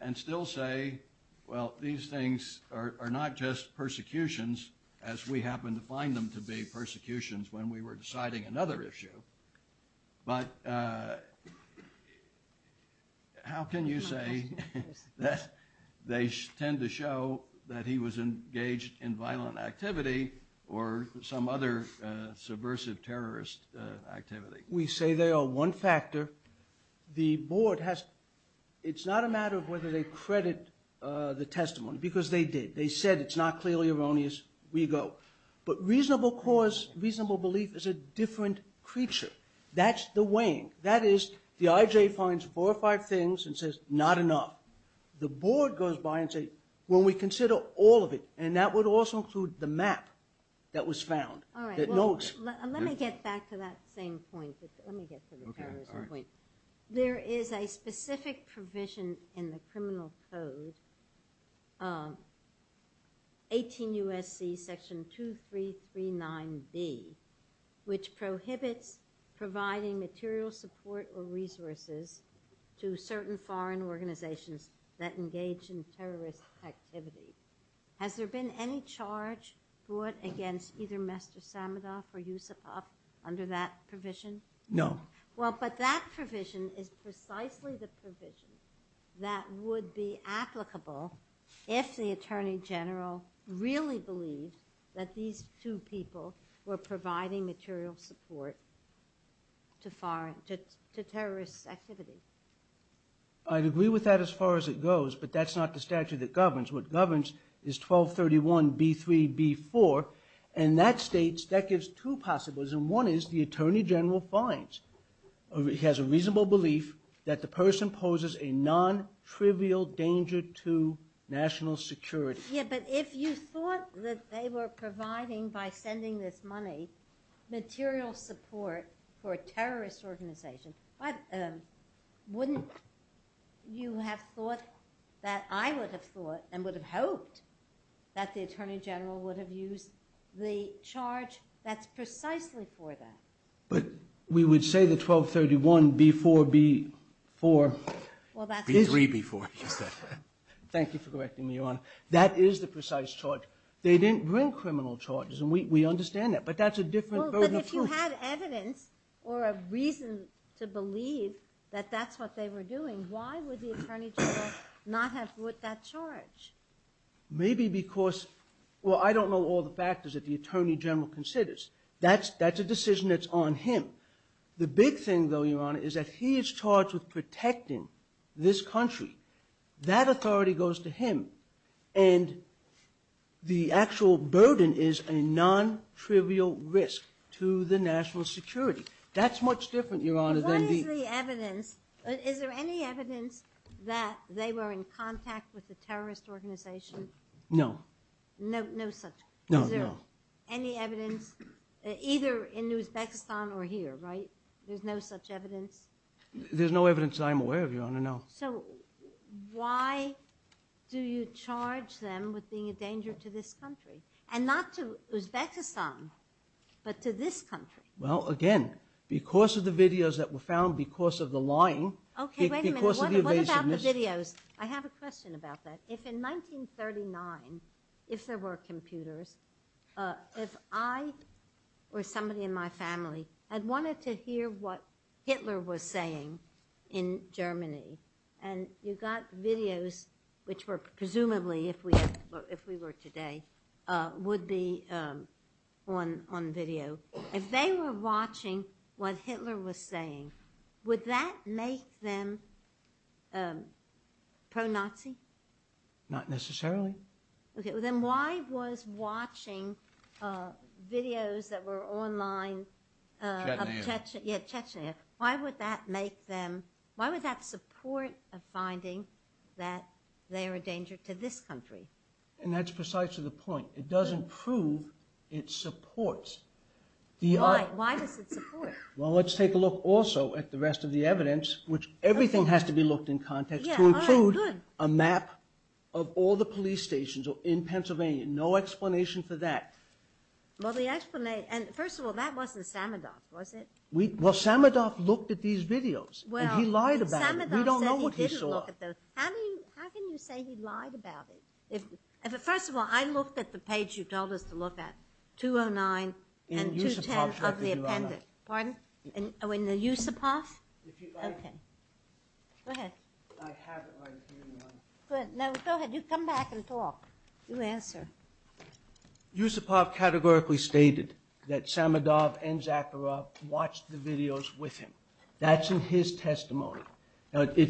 and still say, well, these things are not just persecutions as we happen to find them to be persecutions when we were deciding another issue. But how can you say that they tend to show that he was engaged in violent activity or some other subversive terrorist activity? We say they are one factor. The board has – it's not a matter of whether they credit the testimony because they did. They said it's not clearly erroneous. We go. But reasonable cause, reasonable belief is a different creature. That's the weighing. That is, the IJ finds four or five things and says, not enough. The board goes by and says, well, we consider all of it, and that would also include the map that was found. All right. Let me get back to that same point. Let me get to the terrorism point. There is a specific provision in the Criminal Code, 18 U.S.C. Section 2339B, which prohibits providing material support or resources to certain foreign organizations that engage in terrorist activity. Has there been any charge brought against either Mr. Samudov or Yusufov under that provision? No. Well, but that provision is precisely the provision that would be applicable if the Attorney General really believed that these two people were providing material support to terrorist activity. I agree with that as far as it goes, but that's not the statute that governs. What governs is 1231B3B4, and that states – that gives two possibilities, and one is the Attorney General has a reasonable belief that the person poses a non-trivial danger to national security. Yeah, but if you thought that they were providing, by spending this money, material support for a terrorist organization, wouldn't you have thought that I would have thought and would have hoped that the Attorney General would have used the charge that's precisely for them? But we would say that 1231B4B4B3B4 – thank you for correcting me, Your Honor. That is the precise charge. They didn't bring criminal charges, and we understand that, but that's a different version of proof. Well, but if you had evidence or a reason to believe that that's what they were doing, why would the Attorney General not have put that charge? Maybe because – well, I don't know all the factors that the Attorney General considers. That's a decision that's on him. The big thing, though, Your Honor, is that he is charged with protecting this country. That authority goes to him, and the actual burden is a non-trivial risk to the national security. That's much different, Your Honor, than the – Is there any evidence that they were in contact with a terrorist organization? No. No such – No, no. Is there any evidence, either in Uzbekistan or here, right? There's no such evidence? There's no evidence that I'm aware of, Your Honor, no. So why do you charge them with being a danger to this country? And not to Uzbekistan, but to this country? Well, again, because of the videos that were found, because of the lying – Okay, wait a minute. What about the videos? I have a question about that. If in 1939, if there were computers, if I or somebody in my family had wanted to hear what Hitler was saying in Germany, and you got videos which were presumably, if we were today, would be on video, if they were watching what Hitler was saying, would that make them pro-Nazi? Not necessarily. Okay. Well, then why was watching videos that were online – Chattanooga. Yeah, Chattanooga. Why would that make them – why would that support the finding that they're a danger to this country? And that's precisely the point. It doesn't prove it supports the – Why? Why does it support it? Well, let's take a look also at the rest of the evidence, which everything has to be looked in context, to include a map of all the police stations in Pennsylvania. No explanation for that. Well, the explanation – and first of all, that wasn't Samadoff, was it? Well, Samadoff looked at these videos, and he lied about it. Well, Samadoff said he didn't look at those. We don't know what he saw. How can you say he lied about it? Because first of all, I looked at the page you told us to look at, 209 and 210 of the In Yusupov. Pardon? Oh, in the Yusupov? Okay. Go ahead. I have a hard feeling about it. Good. No, go ahead. You come back and talk. You answer. Yusupov categorically stated that Samadoff and Zakharov watched the videos with him. That's in his testimony. Again,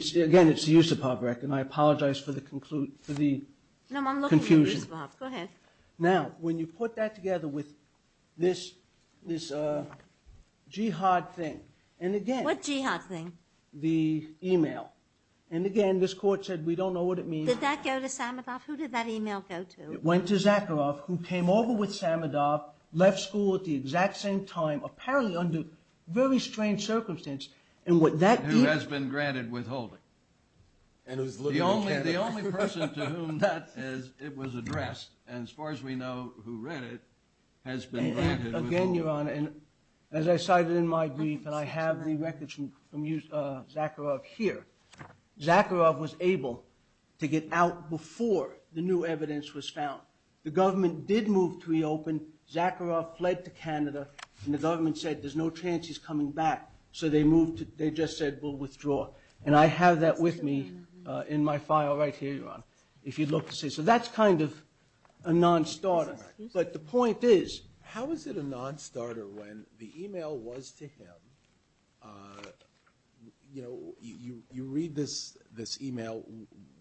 it's the Yusupov record, and I apologize for the confusion. No, I'm looking at Yusupov. Go ahead. Now, when you put that together with this Jihad thing, and again – What Jihad thing? The email. And again, this court said, we don't know what it means. Did that go to Samadoff? Who did that email go to? It went to Zakharov, who came over with Samadoff, left school at the exact same time, apparently under very strange circumstances, and what that means – Who has been granted withholding. The only person to whom that was addressed, as far as we know who read it, has been granted withholding. Again, Your Honor, and as I cited in my brief, and I have the records from Zakharov here, Zakharov was able to get out before the new evidence was found. The government did move to reopen. Zakharov fled to Canada, and the government said, there's no chance he's coming back. So they moved – they just said, we'll withdraw. And I have that with me in my file right here, Your Honor, if you'd look to see. So that's kind of a non-starter. But the point is, how is it a non-starter when the email was to him – you know, you read this email,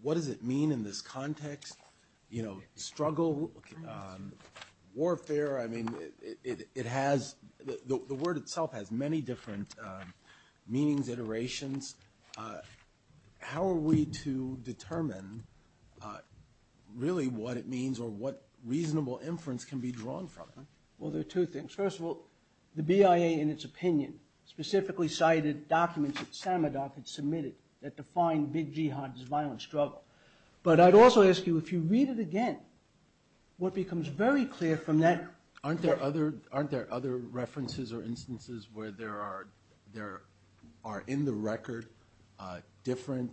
what does it mean in this context? You know, struggle, warfare. I mean, it has – the word itself has many different meanings, iterations. How are we to determine really what it means or what reasonable inference can be drawn from it? Well, there are two things. First of all, the BIA, in its opinion, specifically cited documents that Samadov had submitted that define big jihad as violent struggle. But I'd also ask you, if you read it again, what becomes very clear from that – Aren't there other references or instances where there are in the record different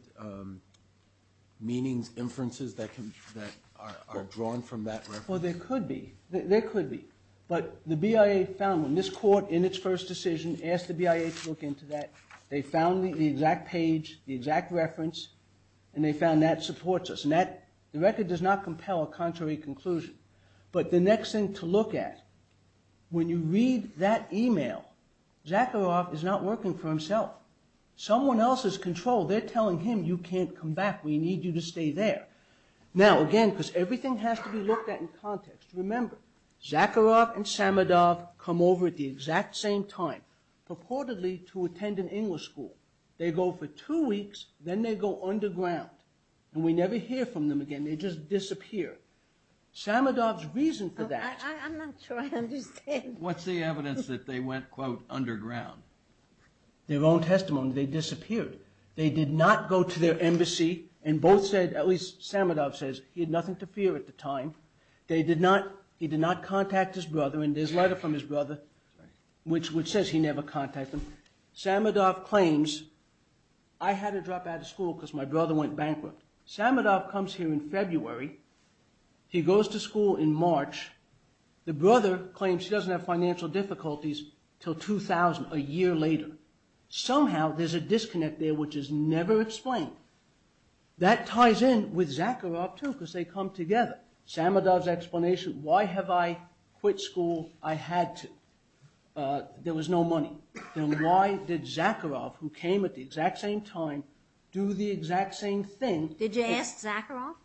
meanings, inferences that are drawn from that reference? Well, there could be. There could be. But the BIA found them. This court, in its first decision, asked the BIA to look into that. They found the exact page, the exact reference, and they found that supports us. And that – the record does not compel a contrary conclusion. But the next thing to look at, when you read that email, Zakharov is not working for himself. Someone else is in control. They're telling him, you can't come back. We need you to stay there. Now, again, because everything has to be looked at in context, remember, Zakharov and Samadov come over at the exact same time, purportedly to attend an English school. They go for two weeks. Then they go underground. And we never hear from them again. They just disappear. Samadov's reason for that – I'm not sure I understand. What's the evidence that they went, quote, underground? Their own testimony. They disappeared. They did not go to their embassy. And both said – at least Samadov says he had nothing to fear at the time. They did not – he did not contact his brother. And there's a letter from his brother which says he never contacted them. Samadov claims, I had to drop out of school because my brother went bankrupt. Samadov comes here in February. He goes to school in March. The brother claims he doesn't have financial difficulties until 2000, a year later. Somehow, there's a disconnect there which is never explained. That ties in with Zakharov, too, because they come together. Samadov's explanation, why have I quit school? I had to. There was no money. Then why did Zakharov, who came at the exact same time, do the exact same thing? Did you ask Zakharov?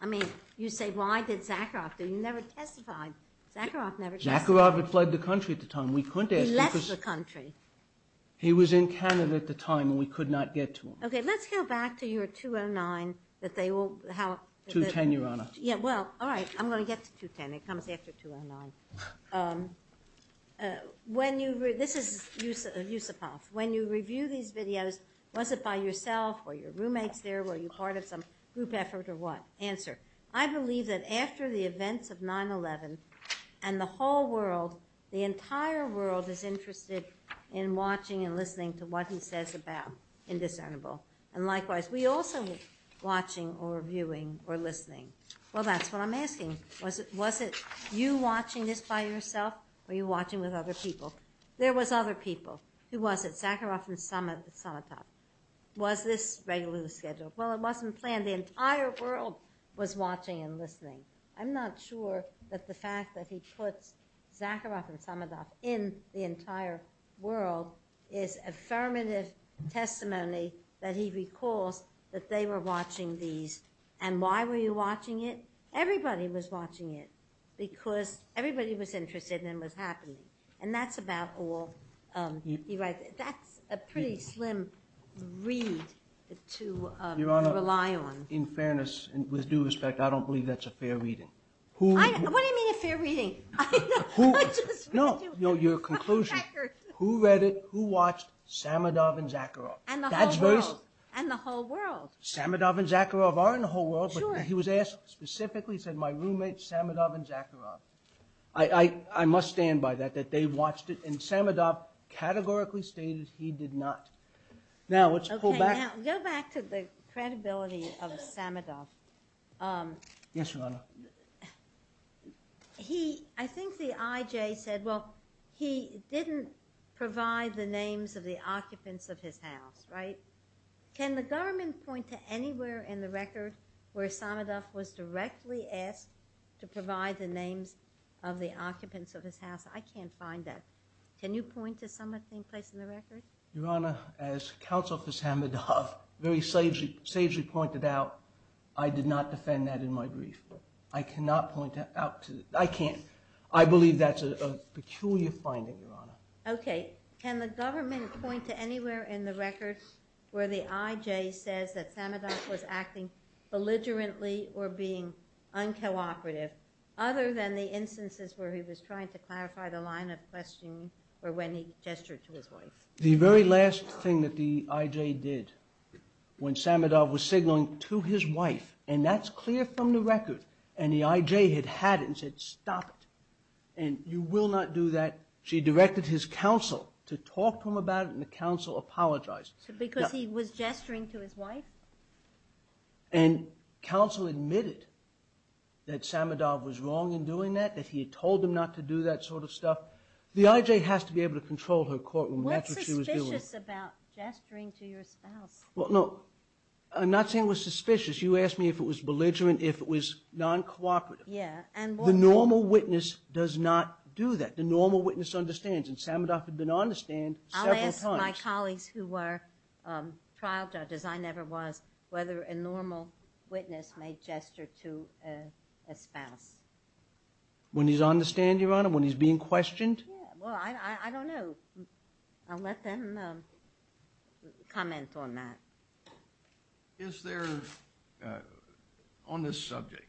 I mean, you say, why did Zakharov? But you never testified. Zakharov never testified. Zakharov had fled the country at the time. We couldn't ask him because – He left the country. He was in Canada at the time and we could not get to him. Okay, let's go back to your 209 that they will – how – 210, Your Honor. Yeah, well, all right. I'm going to get to 210. It comes after 209. When you – this is use of policy. When you review these videos, was it by yourself or your roommates there? Were you part of some group effort or what? Answer. I believe that after the events of 9-11 and the whole world, the entire world is interested in watching and listening to what he says about Indecentible. And likewise, we also are watching or viewing or listening. Well, that's what I'm asking. Was it you watching this by yourself or were you watching with other people? There was other people. Who was it? Zakharov and Samazov. Was this regularly scheduled? Well, it wasn't planned. The entire world was watching and listening. I'm not sure that the fact that he put Zakharov and Samazov in the entire world is an affirmative testimony that he recalls that they were watching these. And why were you watching it? Everybody was watching it because everybody was interested and it was happening. And that's about all he writes. That's a pretty slim read to rely on. Your Honor, in fairness and with due respect, I don't believe that's a fair reading. What do you mean a fair reading? No, your conclusion. Who read it? Who watched Samazov and Zakharov? And the whole world. Samazov and Zakharov are in the whole world. But he was asked specifically, he said, my roommate Samazov and Zakharov. I must stand by that, that they watched it. And Samazov categorically states he did not. Now, let's pull back. Go back to the credibility of Samazov. Yes, Your Honor. I think the IJ said, well, he didn't provide the names of the occupants of his house. Right? Can the government point to anywhere in the records where Samazov was directly asked to provide the names of the occupants of his house? I can't find that. Can you point to somewhere in the records? Your Honor, as Counsel for Samazov very sagely pointed out, I did not defend that in my brief. I cannot point that out. I can't. I believe that's a peculiar finding, Your Honor. Okay. Can the government point to anywhere in the records where the IJ says that Samazov was acting belligerently or being uncooperative, other than the instances where he was trying to clarify the line of questioning or when he gestured to his wife? The very last thing that the IJ did when Samazov was signaling to his wife, and that's clear from the records, and the IJ had had it and said, stop it. And you will not do that. She directed his counsel to talk to him about it, and the counsel apologized. Because he was gesturing to his wife? And counsel admitted that Samazov was wrong in doing that, that he had told him not to do that sort of stuff. The IJ has to be able to control her courtroom. That's what she was doing. What's suspicious about gesturing to your spouse? Well, no. I'm not saying it was suspicious. You asked me if it was belligerent, if it was non-cooperative. Yeah. The normal witness does not do that. The normal witness understands. And Samazov had been on the stand several times. I'll ask my colleagues who were trial judges, I never was, whether a normal witness made gestures to a spouse. When he's on the stand, Your Honor, when he's being questioned? Well, I don't know. I'll let them comment on that. Is there, on this subject,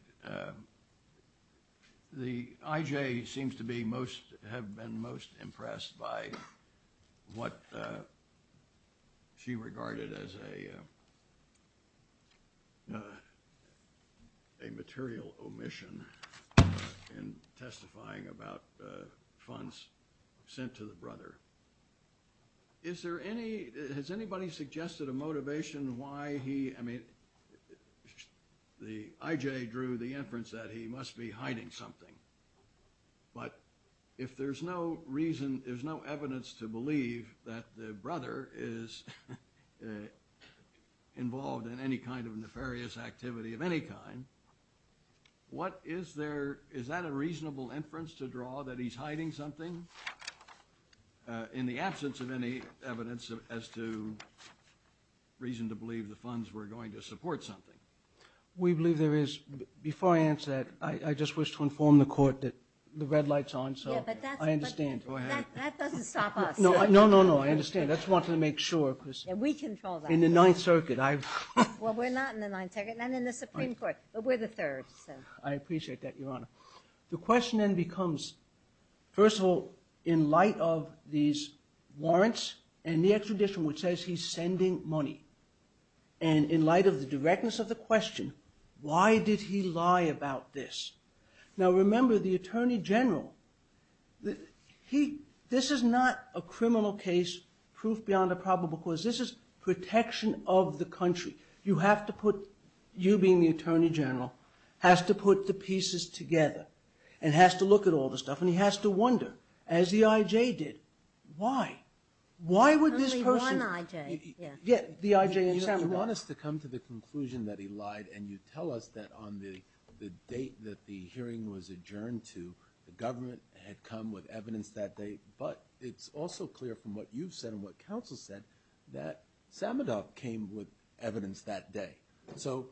the IJ seems to have been most impressed by what she regarded as a material omission in testifying about funds sent to the brother. Is there any, has anybody suggested a motivation why he, I mean, the IJ drew the inference that he must be hiding something. But if there's no reason, there's no evidence to believe that the brother is involved in any kind of nefarious activity of any kind, what is there, is that a reasonable inference to draw that he's hiding something? In the absence of any evidence as to reason to believe the funds were going to support something. We believe there is. Before I answer that, I just wish to inform the court that the red light's on, so I understand. That doesn't stop us. No, no, no, I understand. That's wanting to make sure. And we control that. In the Ninth Circuit. Well, we're not in the Ninth Circuit, not in the Supreme Court. We're the third. I appreciate that, Your Honor. The question then becomes, first of all, in light of these warrants and the extradition which says he's sending money, and in light of the directness of the question, why did he lie about this? Now, remember, the Attorney General, he, this is not a criminal case, proof beyond a probable cause. This is protection of the country. You have to put, you being the Attorney General, has to put the pieces together, and has to look at all the stuff, and he has to wonder, as the I.J. did, why? The I.J. Yeah, the I.J. You want us to come to the conclusion that he lied, and you tell us that on the date that the hearing was adjourned to, the government had come with evidence that day, but it's also clear from what you've said and what counsel said that Samadop came with evidence that day. So,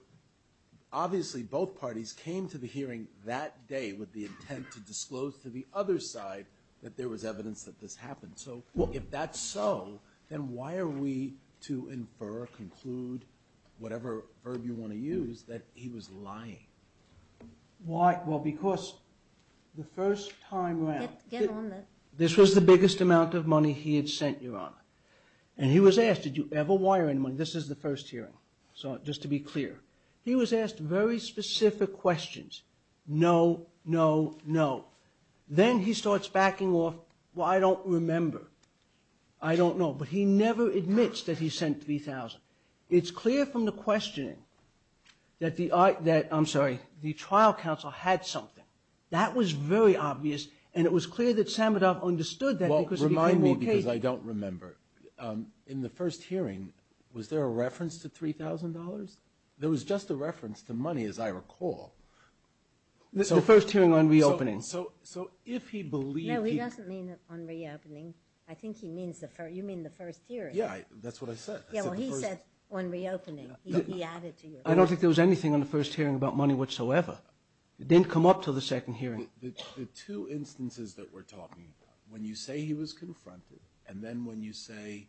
obviously, both parties came to the hearing that day with the intent to disclose to the other side that there was evidence that this happened. So, if that's so, then why are we to infer, conclude, whatever verb you want to use, that he was lying? Why? Well, because the first time around, this was the biggest amount of money he had sent your Honor, and he was asked, did you ever wire any money? This is the first hearing, just to be clear. He was asked very specific questions, no, no, no. Then, he starts backing off, well, I don't remember, I don't know, but he never admits that he sent $3,000. It's clear from the questioning that the, I'm sorry, the trial counsel had something. That was very obvious, and it was clear that Samadop understood that. Well, remind me, because I don't remember. In the first hearing, was there a reference to $3,000? There was just a reference to money, as I recall. The first hearing on reopening. So, if he believed... No, he doesn't mean on reopening. I think he means, you mean the first hearing. Yeah, that's what I said. Yeah, well, he said on reopening. He added to you. I don't think there was anything on the first hearing about money whatsoever. It didn't come up until the second hearing. The two instances that we're talking about, when you say he was confronted, and then when you say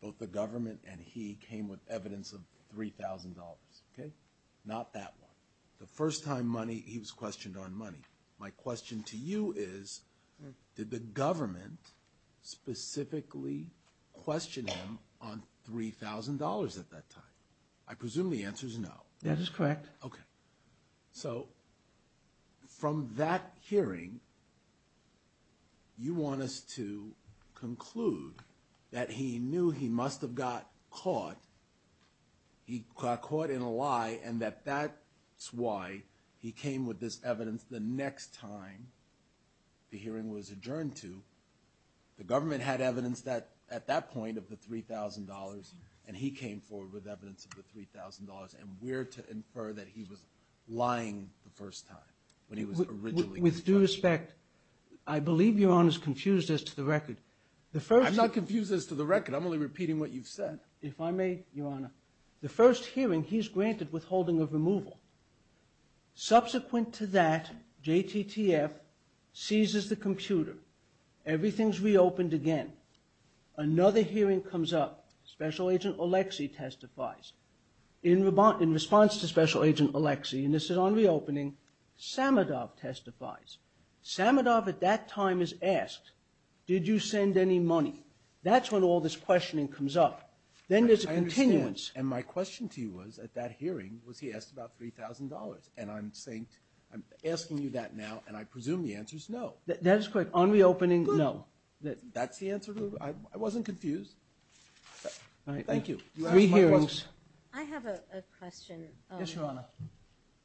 both the government and he came with evidence of $3,000, okay? Not that one. The first time money, he was questioned on money. My question to you is, did the government specifically question him on $3,000 at that time? I presume the answer is no. That is correct. Okay. So, from that hearing, you want us to conclude that he knew he must have got caught. He got caught in a lie, and that that's why he came with this evidence the next time the hearing was adjourned to. The government had evidence at that point of the $3,000, and he came forward with evidence of the $3,000. And we're to infer that he was lying the first time, when he was originally... With due respect, I believe your Honor's confused as to the record. I'm not confused as to the record. I'm only repeating what you've said. If I may, your Honor. The first hearing, he's granted withholding of removal. Subsequent to that, JTTF seizes the computer. Everything's reopened again. Another hearing comes up. Special Agent Oleksii testifies. In response to Special Agent Oleksii, and this is on reopening, Samadov testifies. Samadov at that time is asked, did you send any money? That's when all this questioning comes up. Then there's a continuance, and my question to you was, at that hearing, was he asked about $3,000? And I'm asking you that now, and I presume the answer's no. That's correct. On reopening, no. That's the answer? I wasn't confused. Thank you. Three hearings. I have a question. Yes, your Honor.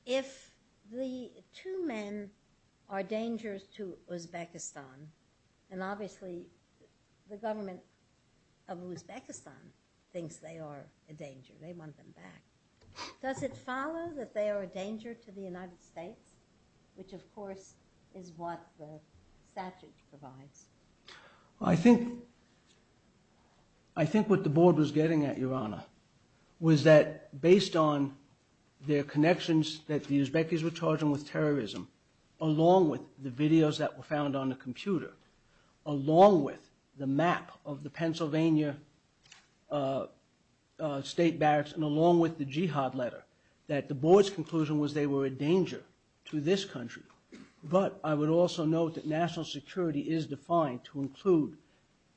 If the two men are dangerous to Uzbekistan, and obviously the government of Uzbekistan thinks they are a danger, they want them back, does it follow that they are a danger to the United States, which of course is what the statutes provide? I think what the board was getting at, your Honor, was that based on their connections that the Uzbekis were charging with terrorism, along with the videos that were found on the state barracks, and along with the jihad letter, that the board's conclusion was they were a danger to this country. But I would also note that national security is defined to include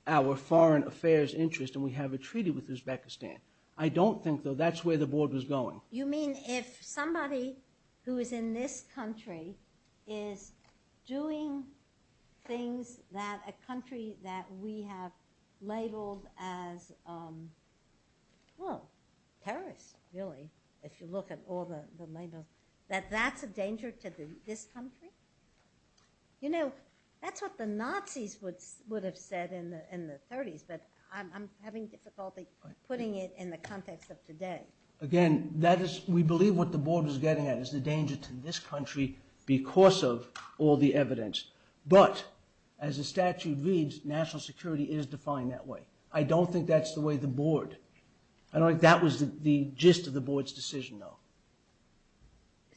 our foreign affairs interests, and we have a treaty with Uzbekistan. I don't think, though, that's where the board was going. You mean if somebody who is in this country is doing things that a country that we have labeled as, well, terrorists, really, if you look at all the labels, that that's a danger to this country? You know, that's what the Nazis would have said in the 30s, but I'm having difficulty putting it in the context of today. Again, we believe what the board was getting at is the danger to this country because of all the evidence. But, as the statute reads, national security is defined that way. I don't think that's the way the board... I don't think that was the gist of the board's decision, though.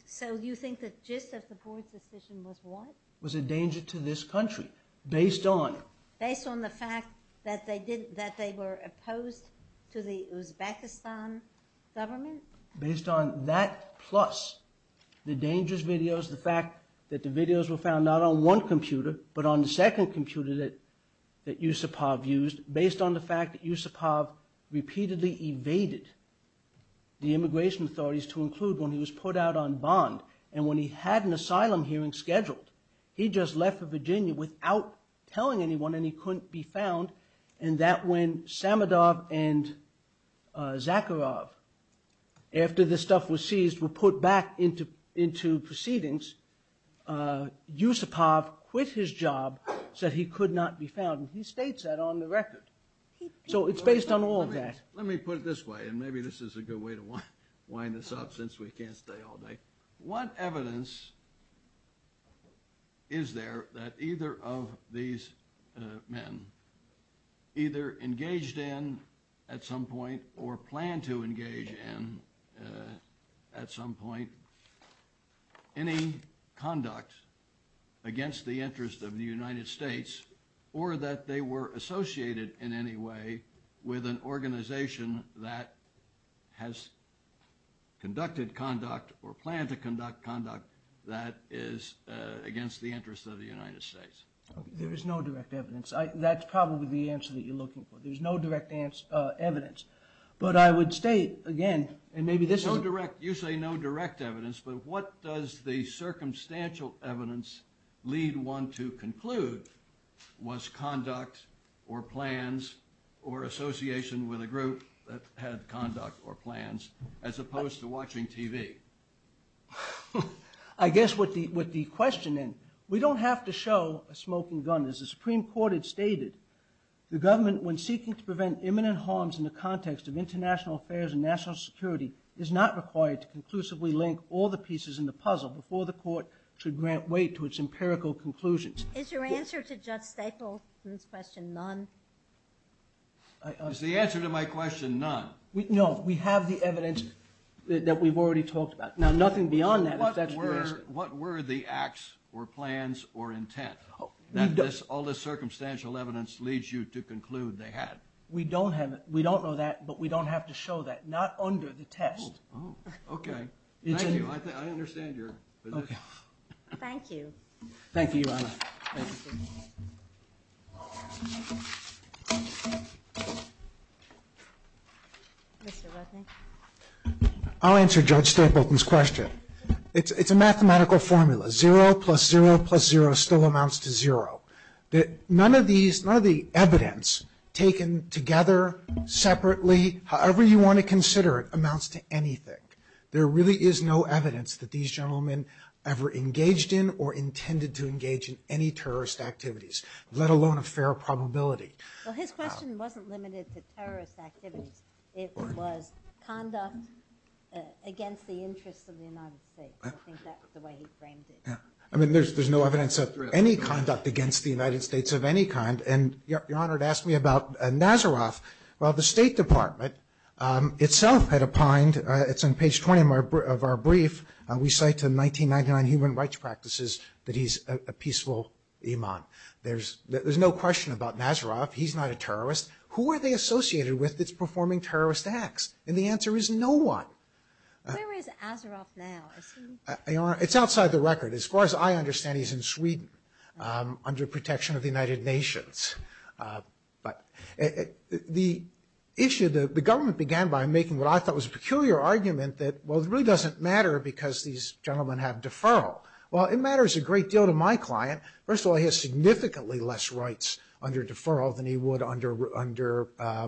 So you think the gist of the board's decision was what? Was a danger to this country, based on... Based on the fact that they were opposed to the Uzbekistan government? Based on that, plus the dangerous videos, the fact that the videos were found not on one computer, but on the second computer that Yusupov used, based on the fact that Yusupov repeatedly evaded the immigration authorities to include when he was put out on bond. And when he had an asylum hearing scheduled, he just left for Virginia without telling anyone and he couldn't be found. And that when Samadov and Zakharov, after this stuff was seized, were put back into proceedings, Yusupov quit his job, said he could not be found, and he states that on the record. So it's based on all of that. Let me put it this way, and maybe this is a good way to wind this up since we can't stay all night. What evidence is there that either of these men either engaged in at some point or planned to engage in at some point any conduct against the interest of the United States or that they were associated in any way with an organization that has conducted conduct or planned to conduct conduct that is against the interest of the United States? There is no direct evidence. That's probably the answer that you're looking for. There's no direct evidence. But I would state, again, and maybe this is... No direct, you say no direct evidence, but what does the circumstantial evidence lead one to conclude was conduct or plans or association with a group that had conduct or plans as opposed to watching TV? I guess what the question is, we don't have to show a smoking gun. As the Supreme Court had stated, the government, when seeking to prevent imminent harms in the context of international affairs and national security, is not required to conclusively link all the pieces in the puzzle before the court should grant weight to its empirical conclusions. Is your answer to Judge Staple's question none? Is the answer to my question none? No, we have the evidence that we've already talked about. Now, nothing beyond that. What were the acts or plans or intent? Does all this circumstantial evidence lead you to conclude they had? We don't know that, but we don't have to show that, not under the test. Oh, okay. Thank you. I understand your position. Thank you. Thank you, Your Honor. I'll answer Judge Staple's question. It's a mathematical formula. Zero plus zero plus zero still amounts to zero. None of the evidence taken together separately, however you want to consider it, amounts to anything. There really is no evidence that these gentlemen ever engaged in or intended to engage in any terrorist activities, let alone a fair probability. Well, his question wasn't limited to terrorist activities. It was conduct against the interests of the United States. I think that's the way he framed it. I mean, there's no evidence of any conduct against the United States of any kind. And Your Honor had asked me about Nazaroff. Well, the State Department itself had opined – it's on page 20 of our brief – we cite the 1999 Human Rights Practices that he's a peaceful imam. There's no question about Nazaroff. He's not a terrorist. Who are they associated with that's performing terrorist acts? And the answer is no one. Where is Nazaroff now? Your Honor, it's outside the record. As far as I understand, he's in Sweden under protection of the United Nations. But the issue – the government began by making what I thought was a peculiar argument that, well, it really doesn't matter because these gentlemen have deferral. Well, it matters a great deal to my client. First of all, he has significantly less rights under deferral than he would under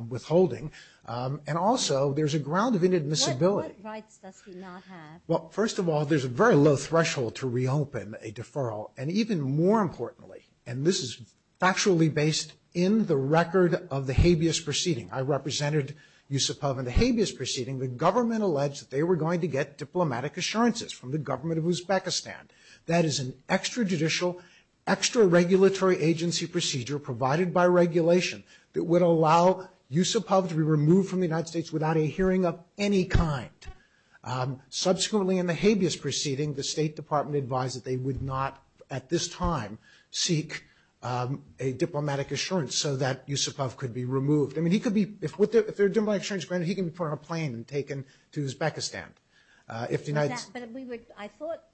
withholding. And also, there's a ground of inadmissibility. What rights does he not have? Well, first of all, there's a very low threshold to reopen a deferral. And even more importantly – and this is factually based in the record of the habeas proceeding. I represented Yusupov in the habeas proceeding. The government alleged that they were going to get diplomatic assurances from the government of Uzbekistan. That is an extrajudicial, extraregulatory agency procedure provided by regulation that would allow Yusupov to be removed from the United States without a hearing of any kind. Subsequently, in the habeas proceeding, the State Department advised that they would not at this time seek a diplomatic assurance so that Yusupov could be removed. I mean, he could be – if they're diplomatic assurances granted, he can be put on a plane and taken to Uzbekistan. If the United – I thought –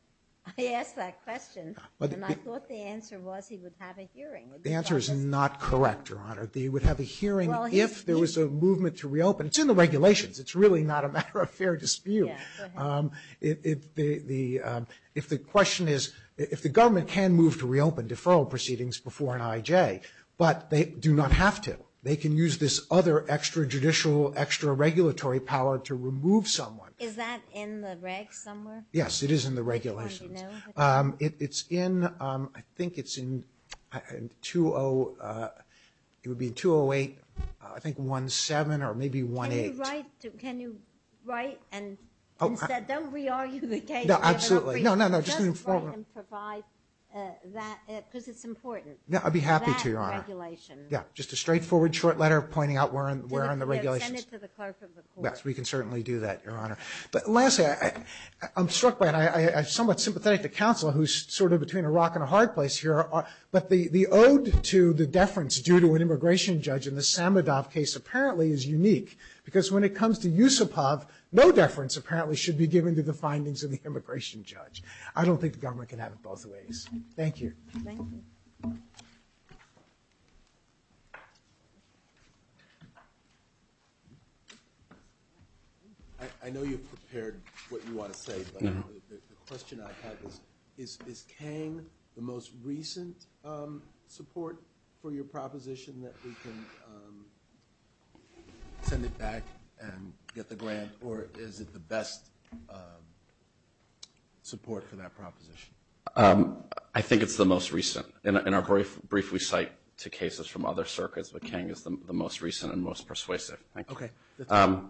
I asked that question, and I thought the answer was he would have a hearing. The answer is not correct, Your Honor. He would have a hearing if there was a movement to reopen. It's in the regulations. It's really not a matter of fair dispute. If the question is – if the government can move to reopen deferral proceedings before an IJ, but they do not have to. They can use this other extrajudicial, extraregulatory power to remove someone. Is that in the regs somewhere? Yes, it is in the regulations. I didn't know that. It's in – I think it's in 20 – it would be 208, I think 17 or maybe 18. Can you write – can you write and instead don't re-argue the case? No, absolutely. No, no, no. Just write and provide that – because it's important. I'd be happy to, Your Honor. That regulation. Yeah, just a straightforward, short letter pointing out where in the regulations. Yeah, send it to the clerk of the court. Yes, we can certainly do that, Your Honor. But lastly, I'm struck by – and I'm somewhat sympathetic to counsel, who's sort of between a rock and a hard place here, but the ode to the deference due to an immigration judge in the Samadov case apparently is unique, because when it comes to Yusupov, no deference apparently should be given to the findings of the immigration judge. I don't think the government can have it both ways. Thank you. Thank you. I know you've prepared what you want to say, but the question I have is, is Kang the most recent support for your proposition that we can send it back and get the grant, or is it the best support for that proposition? I think it's the most recent. In our brief, we cite two cases from other circuits, but Kang is the most recent and most persuasive. Thank you. Okay.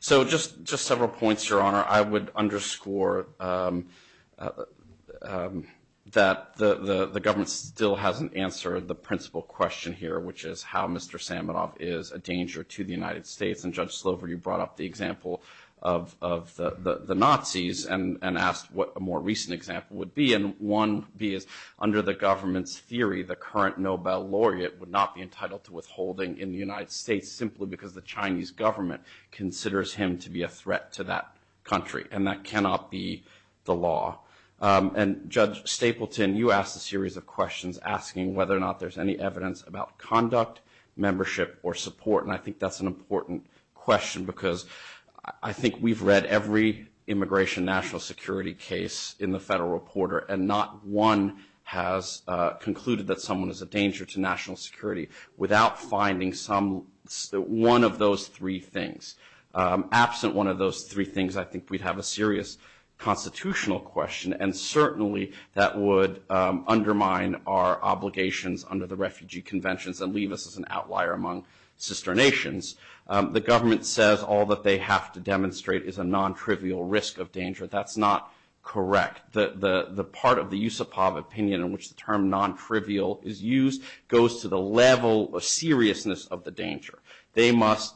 So, just several points, Your Honor. I would underscore that the government still hasn't answered the principal question here, which is how Mr. Samadov is a danger to the United States. And Judge Slover, you brought up the example of the Nazis and asked what a more recent example would be. And one would be, under the government's theory, the current Nobel laureate would not be entitled to withholding in the United States simply because the Chinese government considers him to be a threat to that country. And that cannot be the law. And Judge Stapleton, you asked a series of questions asking whether or not there's any evidence about conduct, membership, or support. And I think that's an important question because I think we've read every immigration national security case in the Federal Reporter, and not one has concluded that someone is a danger to national security without finding one of those three things. Absent one of those three things, I think we'd have a serious constitutional question. And certainly, that would undermine our obligations under the Refugee Convention and leave us as an outlier among sister nations. The government says all that they have to demonstrate is a non-trivial risk of danger. That's not correct. The part of the Yusupov opinion in which the term non-trivial is used goes to the level of seriousness of the danger. They must...